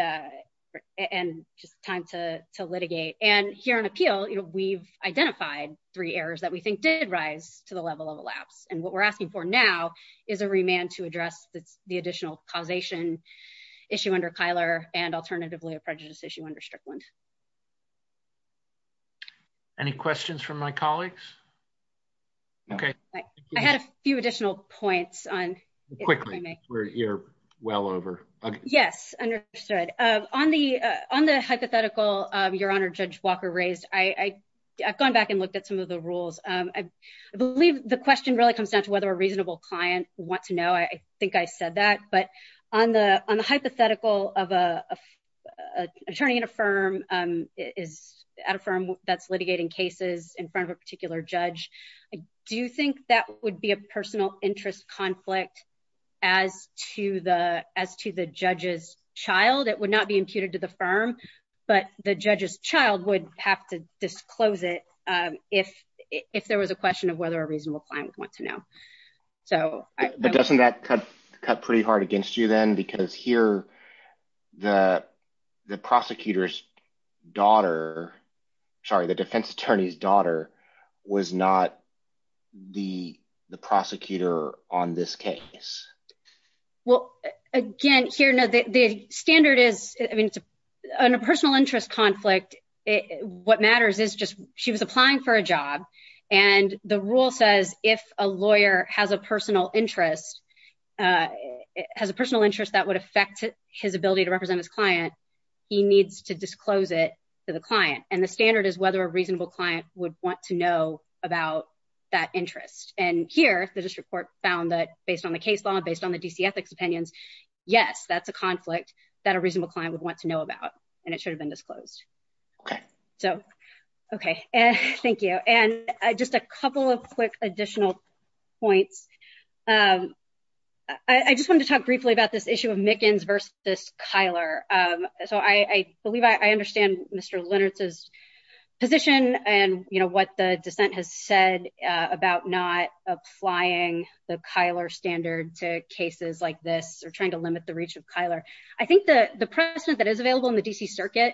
and time to litigate. And here on appeal, you know, we've identified three errors that we think did rise to the level of the lab. And what we're asking for now is a remand to address the additional causation issue under Kyler and alternatively a prejudice issue under Strickland. Any questions from my colleagues. Okay, I had a few additional points on Quickly, you're well over. Yes. On the on the hypothetical. Your Honor, Judge Walker raised I I've gone back and looked at some of the rules. I believe the question really comes down to whether a reasonable client want to know. I think I said that, but on the on the hypothetical of a Attorney in a firm is at a firm that's litigating cases in front of a particular judge. Do you think that would be a personal interest conflict. As to the as to the judges child, it would not be imputed to the firm, but the judges child would have to disclose it if if there was a question of whether a reasonable client wants to know. So, Doesn't that cut cut pretty hard against you then because here the the prosecutor's daughter. Sorry, the defense attorney's daughter was not the the prosecutor on this case. Well, again, here, the standard is a personal interest conflict. What matters is just she was applying for a job and the rule says if a lawyer has a personal interest. Has a personal interest that would affect his ability to represent his client. He needs to disclose it to the client and the standard is whether a reasonable client would want to know about that interest and here there's a report found that based on the case law based on the DC ethics opinions. Yes, that's the conflict that a reasonable client would want to know about and it should have been disclosed. So, okay. Thank you. And I just a couple of quick additional points. I just want to talk briefly about this issue of Mickens versus Kyler. So I believe I understand Mr. Leonard says Position and you know what the dissent has said about not applying the Kyler standard to cases like this or trying to limit the reach of Kyler I think the precedent that is available in the DC circuit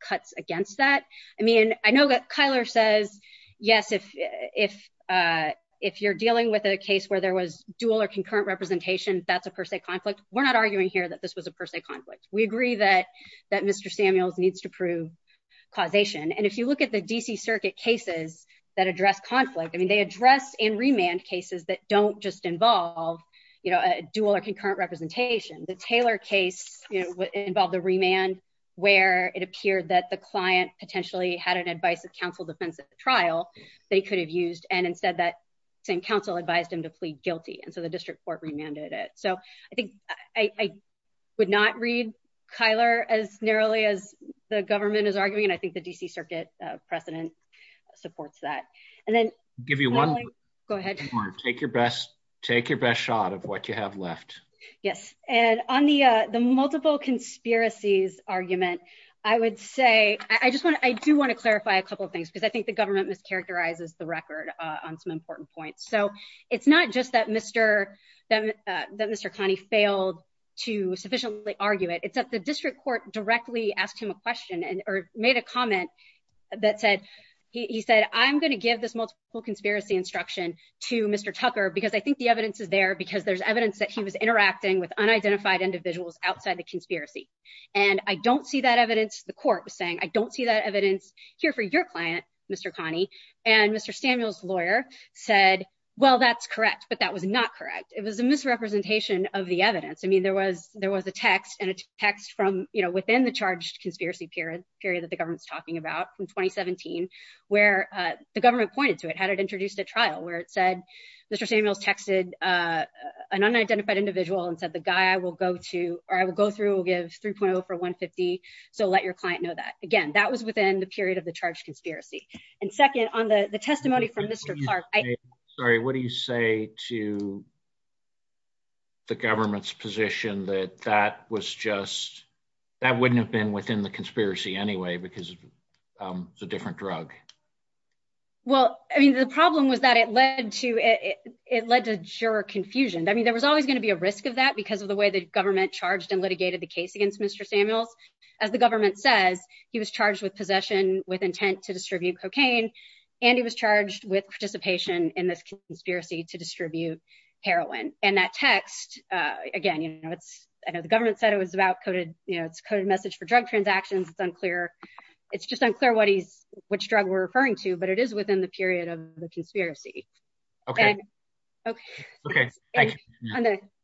cuts against that. I mean, I know that Kyler says, yes, if If you're dealing with a case where there was dual or concurrent representation. That's a per se conflict. We're not arguing here that this was a per se conflict. We agree that that Mr. Samuels needs to prove Causation. And if you look at the DC circuit cases that address conflict. I mean, they address in remand cases that don't just involve, you know, dual or concurrent representation. The Taylor case. Involved the remand where it appeared that the client potentially had an advice that counsel defense trial, they could have used and instead that Council advised him to plead guilty. And so the district court remanded it. So I think I would not read Kyler as narrowly as the government is arguing, and I think the DC circuit precedent supports that and then Give you one. Go ahead. Take your best take your best shot of what you have left. Yes. And on the the multiple conspiracies argument, I would say, I just want to, I do want to clarify a couple things because I think the government mischaracterizes the record on some important points. So it's not just that Mr. That Mr Connie failed to sufficiently argue it. It's that the district court directly asked him a question and or made a comment. That said, he said, I'm going to give this multiple conspiracy instruction to Mr tougher because I think the evidence is there because there's evidence that he was interacting with unidentified individuals outside the conspiracy. And I don't see that evidence. The court was saying, I don't see that evidence here for your client, Mr Connie and Mr Samuels lawyer said Well, that's correct. But that was not correct. It was a misrepresentation of the evidence. I mean, there was there was a text and it's text from, you know, within the charge conspiracy period period that the government's talking about in 2017 Where the government pointed to it. How did introduce the trial where it said, Mr. Samuel texted An unidentified individual and said the guy will go to or I will go through will give 3.0 for 150 so let your client know that, again, that was within the period of the charge conspiracy and second on the the testimony from Mr Clark. Sorry, what do you say to The government's position that that was just that wouldn't have been within the conspiracy anyway because it's a different drug. Well, I mean, the problem was that it led to it. It led to sure confusion. I mean, there was always going to be a risk of that because of the way the government charged and litigated the case against Mr Samuel As the government said he was charged with possession with intent to distribute cocaine and he was charged with participation in this conspiracy to distribute heroin and that text. Again, you know, the government said it was about coded, you know, coded message for drug transactions unclear. It's just unclear what he which drug we're referring to, but it is within the period of the conspiracy. Okay. Okay. Okay.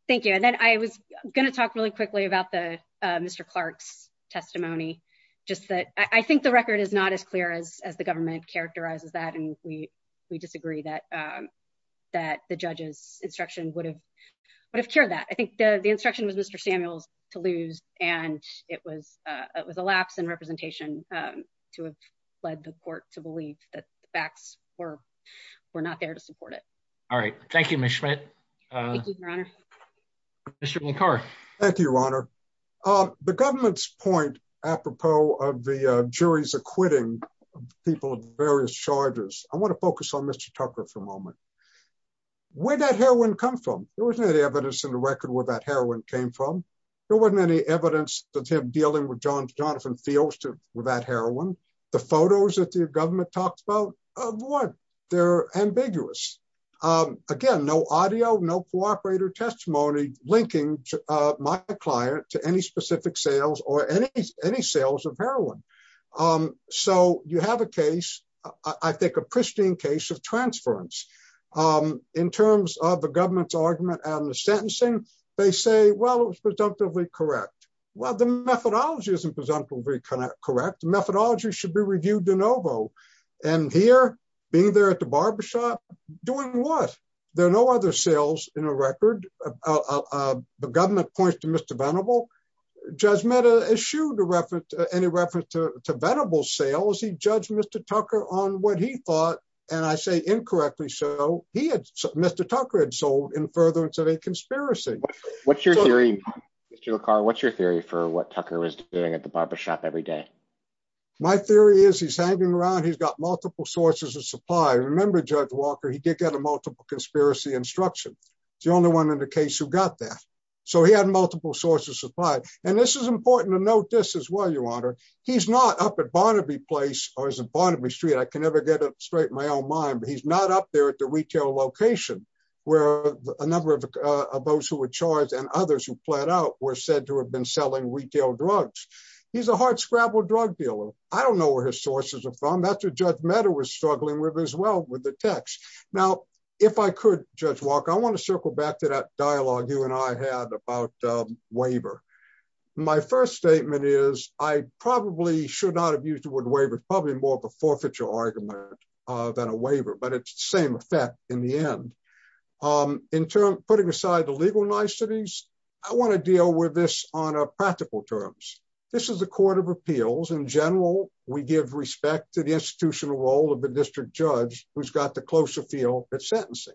Thank you. And then I was going to talk really quickly about the Mr Clark's testimony, just that I think the record is not as clear as the government characterizes that and we we disagree that That the judges instruction would have would have cured that I think the instruction was Mr Samuels to lose and it was it was a lapse in representation to have led the court to believe that the facts were were not there to support it. All right. Thank you. Thank you, Your Honor. The government's point apropos of the jury's acquitting people various charges. I want to focus on Mr Tucker for a moment. Where that heroin come from. There wasn't any evidence in the record where that heroin came from. There wasn't any evidence that him dealing with john Jonathan fields to without heroin, the photos that the government talks about what they're ambiguous. Again, no audio no cooperator testimony linking my client to any specific sales or any, any sales of heroin. So you have a case, I think a pristine case of transference in terms of the government's argument and the sentencing. They say, well, it was presumptively correct. Well, the methodology isn't presumptively correct methodology should be reviewed de novo. And here, being there at the barbershop doing what there are no other sales in a record. The government points to Mr venerable judgment issue the reference to any reference to venerable sales he judged Mr Tucker on what he thought, and I say incorrectly so he had Mr Tucker had sold in furtherance of a conspiracy. What's your theory. What's your theory for what Tucker was doing at the barbershop every day. My theory is he's hanging around he's got multiple sources of supply remember judge Walker he did get a multiple conspiracy instruction. The only one in the case who got that. So he had multiple sources of five, and this is important to note this as well your honor. He's not up at Barnaby place, or is it Barnaby Street I can never get it straight in my own mind but he's not up there at the retail location, where a number of those who were charged and others who flat out were said to have been selling retail drugs. He's a hardscrabble drug dealer. I don't know where his sources are from after judge matter was struggling with as well with the text. Now, if I could just walk I want to circle back to that dialogue you and I had about waiver. My first statement is, I probably should not have used the word waiver probably more of a forfeiture argument than a waiver but it's same effect. In the end, in terms of putting aside the legal niceties. I want to deal with this on a practical terms. This is a court of appeals in general, we give respect to the institutional role of the district judge, who's got the close appeal at sentencing.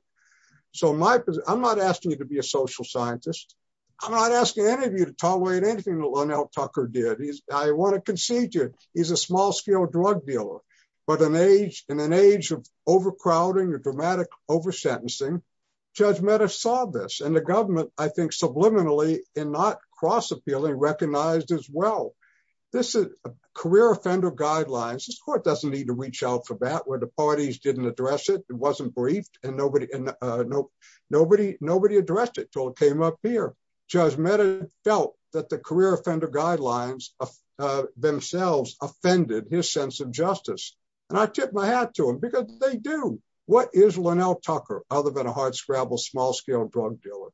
So my, I'm not asking you to be a social scientist. I'm not asking any of you to tolerate anything alone out Tucker did he's, I want to concede to you, he's a small scale drug dealer, but an age and an age of overcrowding a dramatic over sentencing judge matter saw this and the government, I think subliminally, and not cross appealing recognized as well. This is a career offender guidelines this court doesn't need to reach out for that where the parties didn't address it wasn't brief, and nobody, nobody, nobody addressed it till it came up here. felt that the career offender guidelines themselves offended his sense of justice, and I tip my hat to him because they do. What is Lynell Tucker, other than a hardscrabble small scale drug dealer.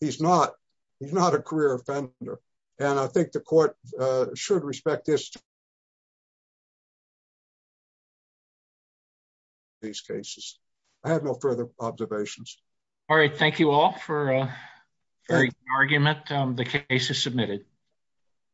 He's not, he's not a career offender. And I think the court should respect this. These cases. I have no further observations. All right. Thank you all for argument. The case is submitted.